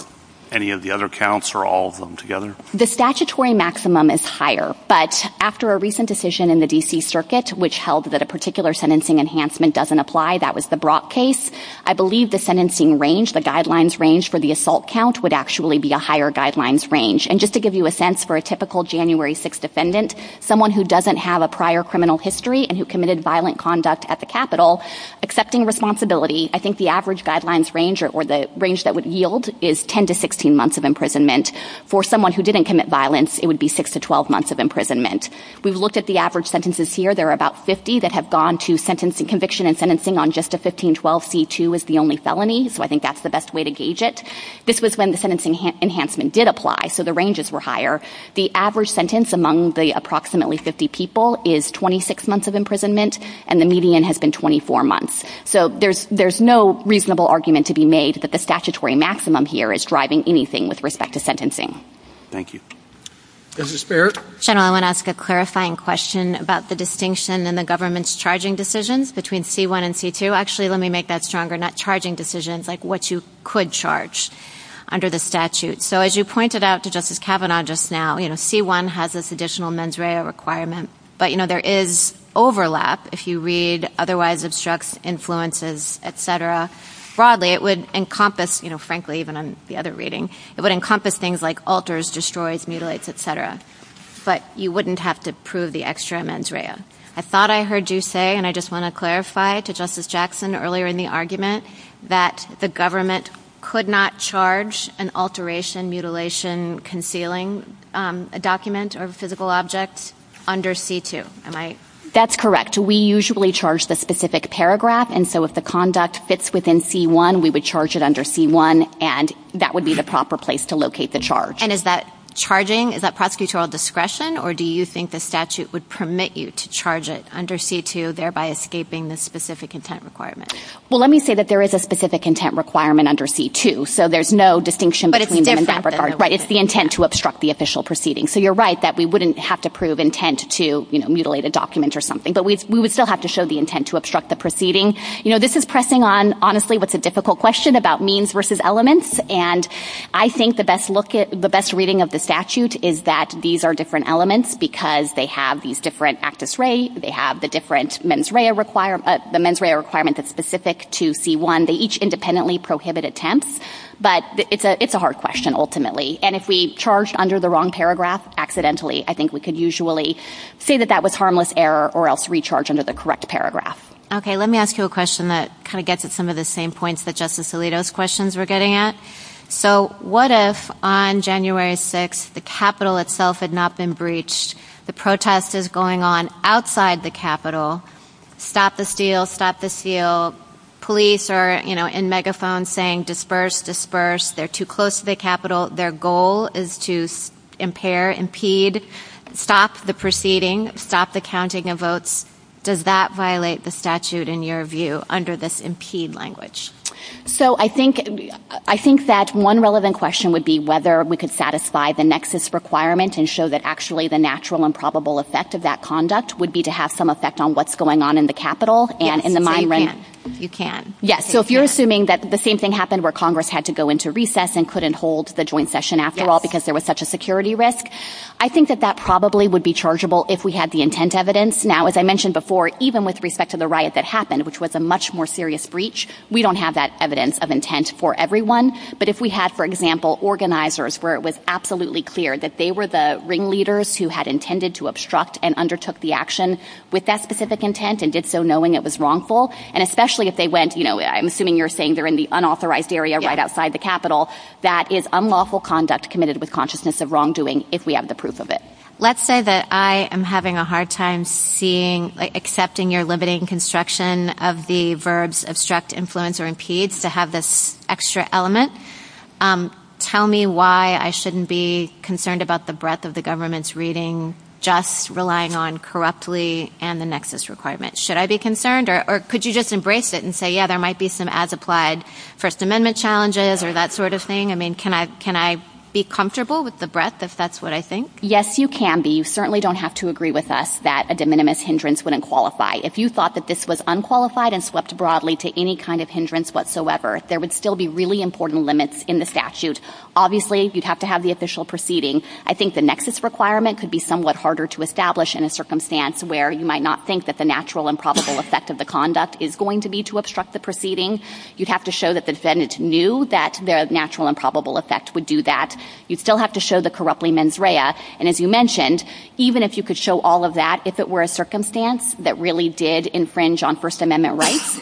any of the other counts or all of them together. The statutory maximum is higher, but after a recent decision in the DC circuit, which held that a particular sentencing enhancement doesn't apply, that was the Brock case. I believe the sentencing range, the guidelines range for the assault count would actually be a higher guidelines range. And just to give you a sense for a typical January six defendant, someone who doesn't have a prior criminal history and who committed violent conduct at the Capitol accepting responsibility. I think the average guidelines range or the range that would yield is 10 to 16 months of imprisonment for someone who didn't commit violence. It would be six to 12 months of imprisonment. We've looked at the average sentences here. There are about 50 that have gone to sentence and conviction and sentencing on just a 1512 C2 is the only felony. So I think that's the best way to gauge it. This was when the sentencing enhancement did apply. So the ranges were higher. The average sentence among the approximately 50 people is 26 months of imprisonment and the median has been 24 months. So there's, there's no reasonable argument to be made that the statutory maximum here is driving anything with respect to sentencing. Thank you. General. I want to ask a clarifying question about the distinction and the government's charging decisions between C1 and C2. Actually, let me make that stronger net charging decisions like what you could charge under the statute. So as you pointed out to justice Kavanaugh, just now, you know, C1 has this additional mens rea requirement, but you know, there is overlap. If you read otherwise obstructs influences, et cetera, broadly, it would encompass, you know, frankly, even on the other reading, it would encompass things like alters, destroys, mutilates, et cetera, but you wouldn't have to prove the extra mens rea. I thought I heard you say, and I just want to clarify to justice Jackson earlier in the argument that the government could not charge an alteration mutilation, concealing a document or physical objects under C2. That's correct. We usually charge the specific paragraph. And so if the conduct fits within C1, we would charge it under C1 and that would be the proper place to locate the charge. And is that charging is that prosecutorial discretion or do you think the statute would permit you to charge it under C2? Thereby escaping the specific intent requirement. Well, let me say that there is a specific intent requirement under C2. So there's no distinction, but it's the intent to obstruct the official proceeding. So you're right that we wouldn't have to prove intent to, you know, mutilate a document or something, but we would still have to show the intent to obstruct the proceeding. You know, this is pressing on honestly, what's a difficult question about means versus elements. And I think the best look at the best reading of the statute is that these are different elements because they have these different actus re, they have the different mens rea requirement, the mens rea requirement is specific to C1. They each independently prohibit attempts, but it's a, it's a hard question ultimately. And if we charge under the wrong paragraph accidentally, I think we could usually say that that was harmless error or else recharge under the correct paragraph. Okay. Let me ask you a question that kind of gets at some of the same points that justice Alito's questions we're getting at. So what if on January 6th, the Capitol itself had not been breached. The protest is going on outside the Capitol. Stop the steal, stop the steal. Police are, you know, in megaphones saying disperse, disperse. They're too close to the Capitol. Their goal is to impair, impede, stop the proceeding, stop the counting of votes. Does that violate the statute in your view under this impede language? So I think, I think that one relevant question would be whether we could satisfy the natural and probable effect of that conduct would be to have some effect on what's going on in the Capitol and in the mind. You can. Yes. So if you're assuming that the same thing happened where Congress had to go into recess and couldn't hold the joint session after all, because there was such a security risk, I think that that probably would be chargeable if we had the intent evidence. Now, as I mentioned before, even with respect to the riot that happened, which was a much more serious breach, we don't have that evidence of intent for everyone. But if we had, for example, where it was absolutely clear that they were the ringleaders who had intended to obstruct and undertook the action with that specific intent and did so knowing it was wrongful. And especially if they went, you know, I'm assuming you're saying they're in the unauthorized area right outside the Capitol. That is unlawful conduct committed with consciousness of wrongdoing. If we have the proof of it. Let's say that I am having a hard time seeing, like accepting your limiting construction of the verbs, obstruct influence or impedes to have this extra element. Tell me why I shouldn't be concerned about the breadth of the government's reading, just relying on corruptly and the nexus requirement. Should I be concerned or could you just embrace it and say, yeah, there might be some ads applied first amendment challenges or that sort of thing. I mean, can I, can I be comfortable with the breadth if that's what I think? Yes, you can be. You certainly don't have to agree with us that a de minimis hindrance wouldn't qualify. If you thought that this was unqualified and swept broadly to any kind of hindrance whatsoever, there would still be really important limits in the statute. Obviously you'd have to have the official proceeding. I think the nexus requirement could be somewhat harder to establish in a circumstance where you might not think that the natural improbable effect of the conduct is going to be to obstruct the proceeding. You'd have to show that the defendant knew that the natural improbable effect would do that. You'd still have to show the corruptly mens rea. And as you mentioned, even if you could show all of that, if it were a circumstance that really did infringe on first amendment,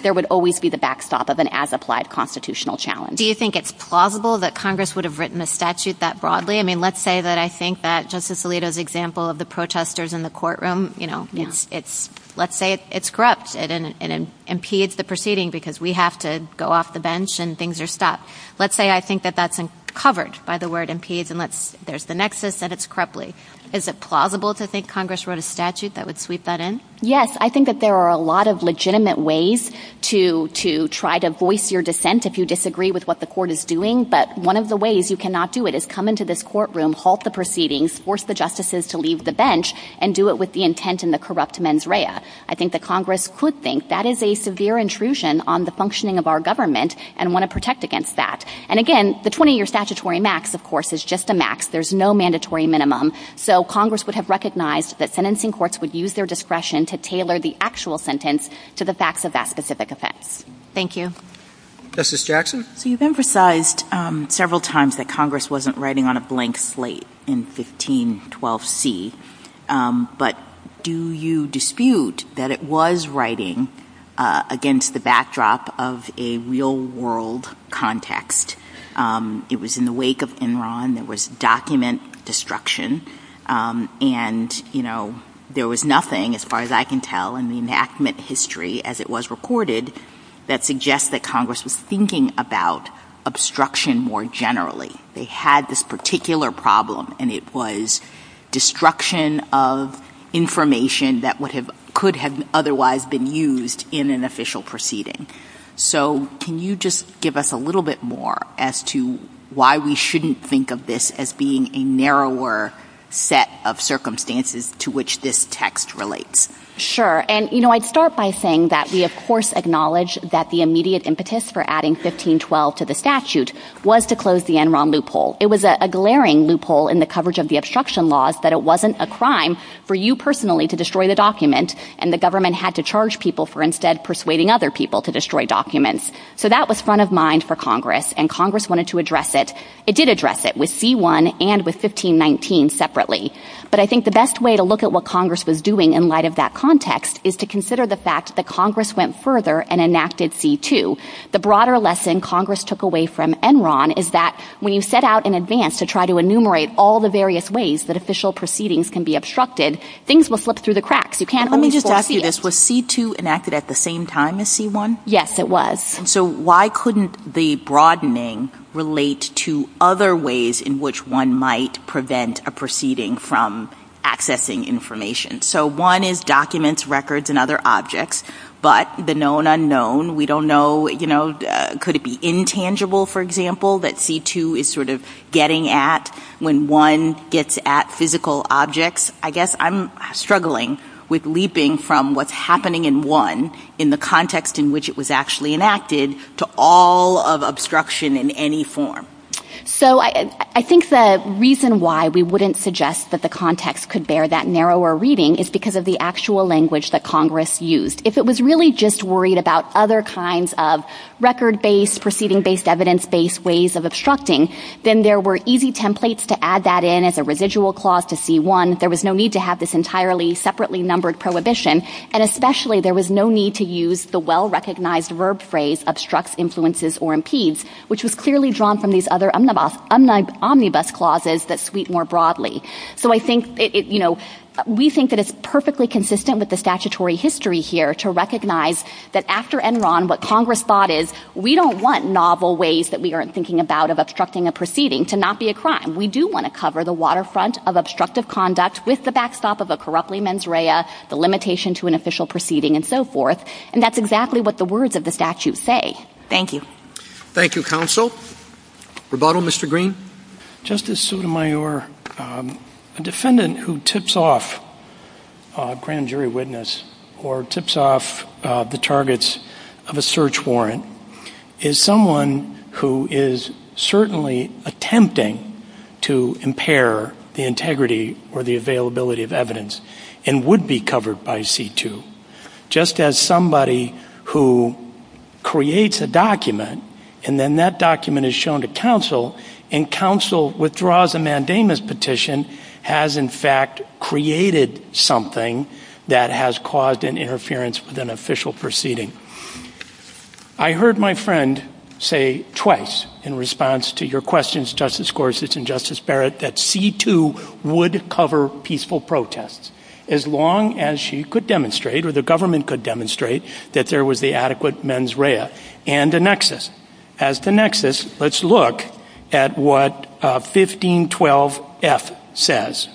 there would always be the backstop of an as applied constitutional challenge. Do you think it's plausible that Congress would have written the statute that broadly? I mean, let's say that I think that justice Alito's example of the protesters in the courtroom, you know, it's, it's, let's say it's corrupt. It and it impedes the proceeding because we have to go off the bench and things are stopped. Let's say, I think that that's covered by the word impedes and let's there's the nexus that it's correctly. Is it plausible to think Congress wrote a statute that would sweep that in? Yes. I think that there are a lot of legitimate ways to, to try to voice your dissent. If you disagree with what the court is doing, but one of the ways you cannot do it is come into this courtroom, halt the proceedings, force the justices to leave the bench and do it with the intent and the corrupt mens rea. I think that Congress could think that is a severe intrusion on the functioning of our government and want to protect against that. And again, the 20 year statutory max of course is just a max. There's no mandatory minimum. So Congress would have recognized that sentencing courts would use their discretion to tailor the actual sentence to the facts of that specific offense. Thank you. Justice Jackson. So you've emphasized several times that Congress wasn't writing on a blank slate in 1512C. But do you dispute that it was writing against the backdrop of a real world context? It was in the wake of Enron. There was document destruction. And, you know, there was nothing as far as I can tell in the enactment history as it was recorded that suggests that Congress was thinking about obstruction more generally. They had this particular problem and it was destruction of information that would have could have otherwise been used in an official proceeding. So can you just give us a little bit more as to why we shouldn't think of this as being a narrower set of circumstances to which this text relates? Sure. And, you know, I'd start by saying that we of course acknowledge that the immediate impetus for adding 1512 to the statute was to close the Enron loophole. It was a glaring loophole in the coverage of the obstruction laws that it wasn't a crime for you personally to destroy the document and the government had to charge people for instead persuading other people to destroy documents. So that was front of mind for Congress and Congress wanted to address it. It did address it with C-1 and with 1519 separately. But I think the best way to look at what Congress was doing in light of that context is to consider the fact that Congress went further and enacted C-2. The broader lesson Congress took away from Enron is that when you set out in advance to try to enumerate all the various ways that official proceedings can be obstructed, things will slip through the cracks. You can't only force it. Let me just ask you this. Was C-2 enacted at the same time as C-1? Yes, it was. So why couldn't the broadening relate to other ways in which one might prevent a proceeding from accessing information? So one is documents, records, and other objects. But the known unknown, we don't know, you know, could it be intangible, for example, that C-2 is sort of getting at when one gets at physical objects? I guess I'm struggling with leaping from what's happening in one in the context in which it was actually enacted to all of obstruction in any form. So I think the reason why we wouldn't suggest that the context could bear that narrower reading is because of the actual language that Congress used. If it was really just worried about other kinds of record-based, proceeding-based, evidence-based ways of obstructing, then there were easy templates to add that in as a residual clause to C-1. There was no need to have this entirely separately numbered prohibition. And especially, there was no need to use the well-recognized verb phrase obstructs, influences, or impedes, which was clearly drawn from these other omnibus clauses that sweep more broadly. So I think, you know, we think that it's perfectly consistent with the statutory history here to recognize that after Enron, what Congress thought is we don't want novel ways that we aren't thinking about of obstructing a proceeding to not be a crime. We do want to cover the waterfront of obstructive conduct with the backstop of And that's exactly what the words of the statute say. Thank you. Thank you, Counsel. Rebuttal, Mr. Green? Justice Sotomayor, a defendant who tips off a grand jury witness or tips off the targets of a search warrant is someone who is certainly attempting to impair the integrity or the availability of evidence and would be covered by C-2, just as somebody who creates a document and then that document is shown to counsel and counsel withdraws a mandamus petition has in fact created something that has caused an interference with an official proceeding. I heard my friend say twice in response to your questions, Justice Gorsuch and Justice Barrett, that C-2 would cover peaceful protests. As long as she could demonstrate or the government could demonstrate that there was the adequate mens rea and a nexus. As the nexus, let's look at what 1512F says.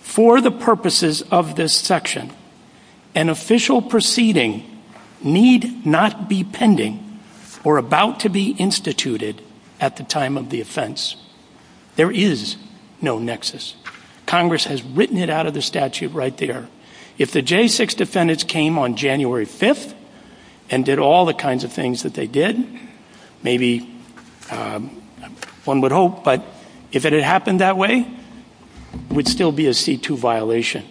For the purposes of this section, an official proceeding need not be pending or about to be instituted at the time of the offense. There is no nexus. Congress has written it out of the statute right there. If the J-6 defendants came on January 5th and did all the kinds of things that they did, maybe one would hope, but if it had happened that way, it would still be a C-2 violation.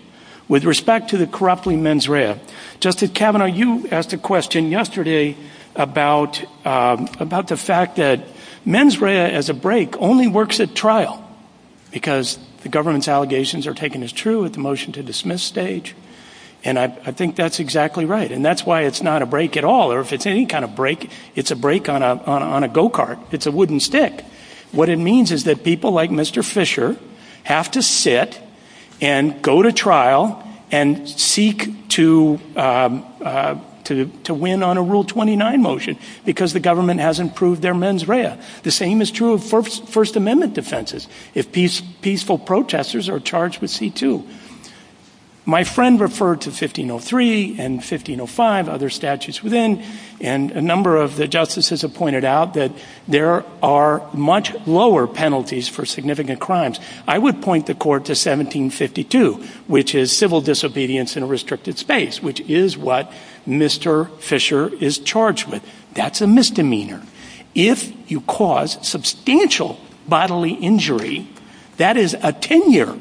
With respect to the corrupting mens rea, Justice Kavanaugh, you asked a question yesterday about the fact that mens rea as a break only works at trial because the government's allegations are taken as true at the motion to dismiss stage. And I think that's exactly right. And that's why it's not a break at all, or if it's any kind of break, it's a break on a go-kart. It's a wooden stick. What it means is that people like Mr. Fisher have to sit and go to trial and seek to win on a Rule 29 motion because the government hasn't proved their mens rea. The same is true of First Amendment defenses. Peaceful protesters are charged with C-2. My friend referred to 1503 and 1505, other statutes within, and a number of the justices have pointed out that there are much lower penalties for significant crimes. I would point the court to 1752, which is civil disobedience in a restricted space, which is what Mr. Fisher is charged with. That's a misdemeanor. If you cause substantial bodily injury, that is a 10-year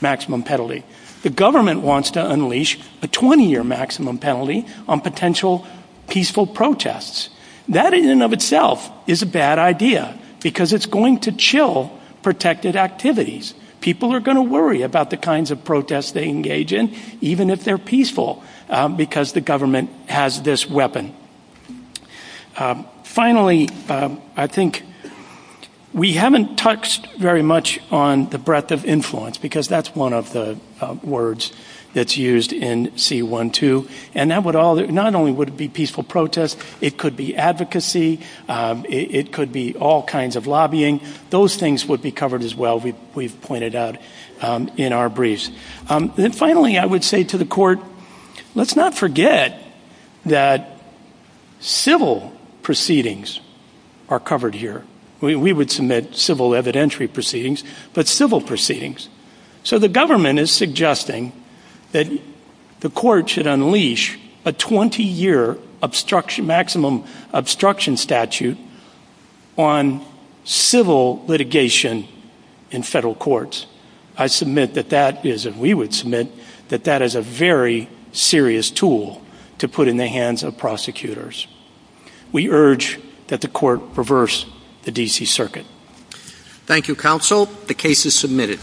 maximum penalty. The government wants to unleash the 20-year maximum penalty on potential peaceful protests. That in and of itself is a bad idea because it's going to chill protected activities. People are going to worry about the kinds of protests they engage in, even if they're peaceful, because the government has this weapon. Finally, I think we haven't touched very much on the breadth of influence because that's one of the words that's used in C-1-2. Not only would it be peaceful protests, it could be advocacy, it could be all kinds of lobbying. Those things would be covered as well, we've pointed out in our briefs. Finally, I would say to the court, let's not forget that civil proceedings are covered here. We would submit civil evidentiary proceedings, but civil proceedings. The government is suggesting that the court should unleash a 20-year maximum obstruction statute on civil litigation in federal courts. I submit that that is, and we would submit that that is a very serious tool to put in the hands of prosecutors. We urge that the court reverse the D.C. Circuit. Thank you, Counsel. The case is submitted.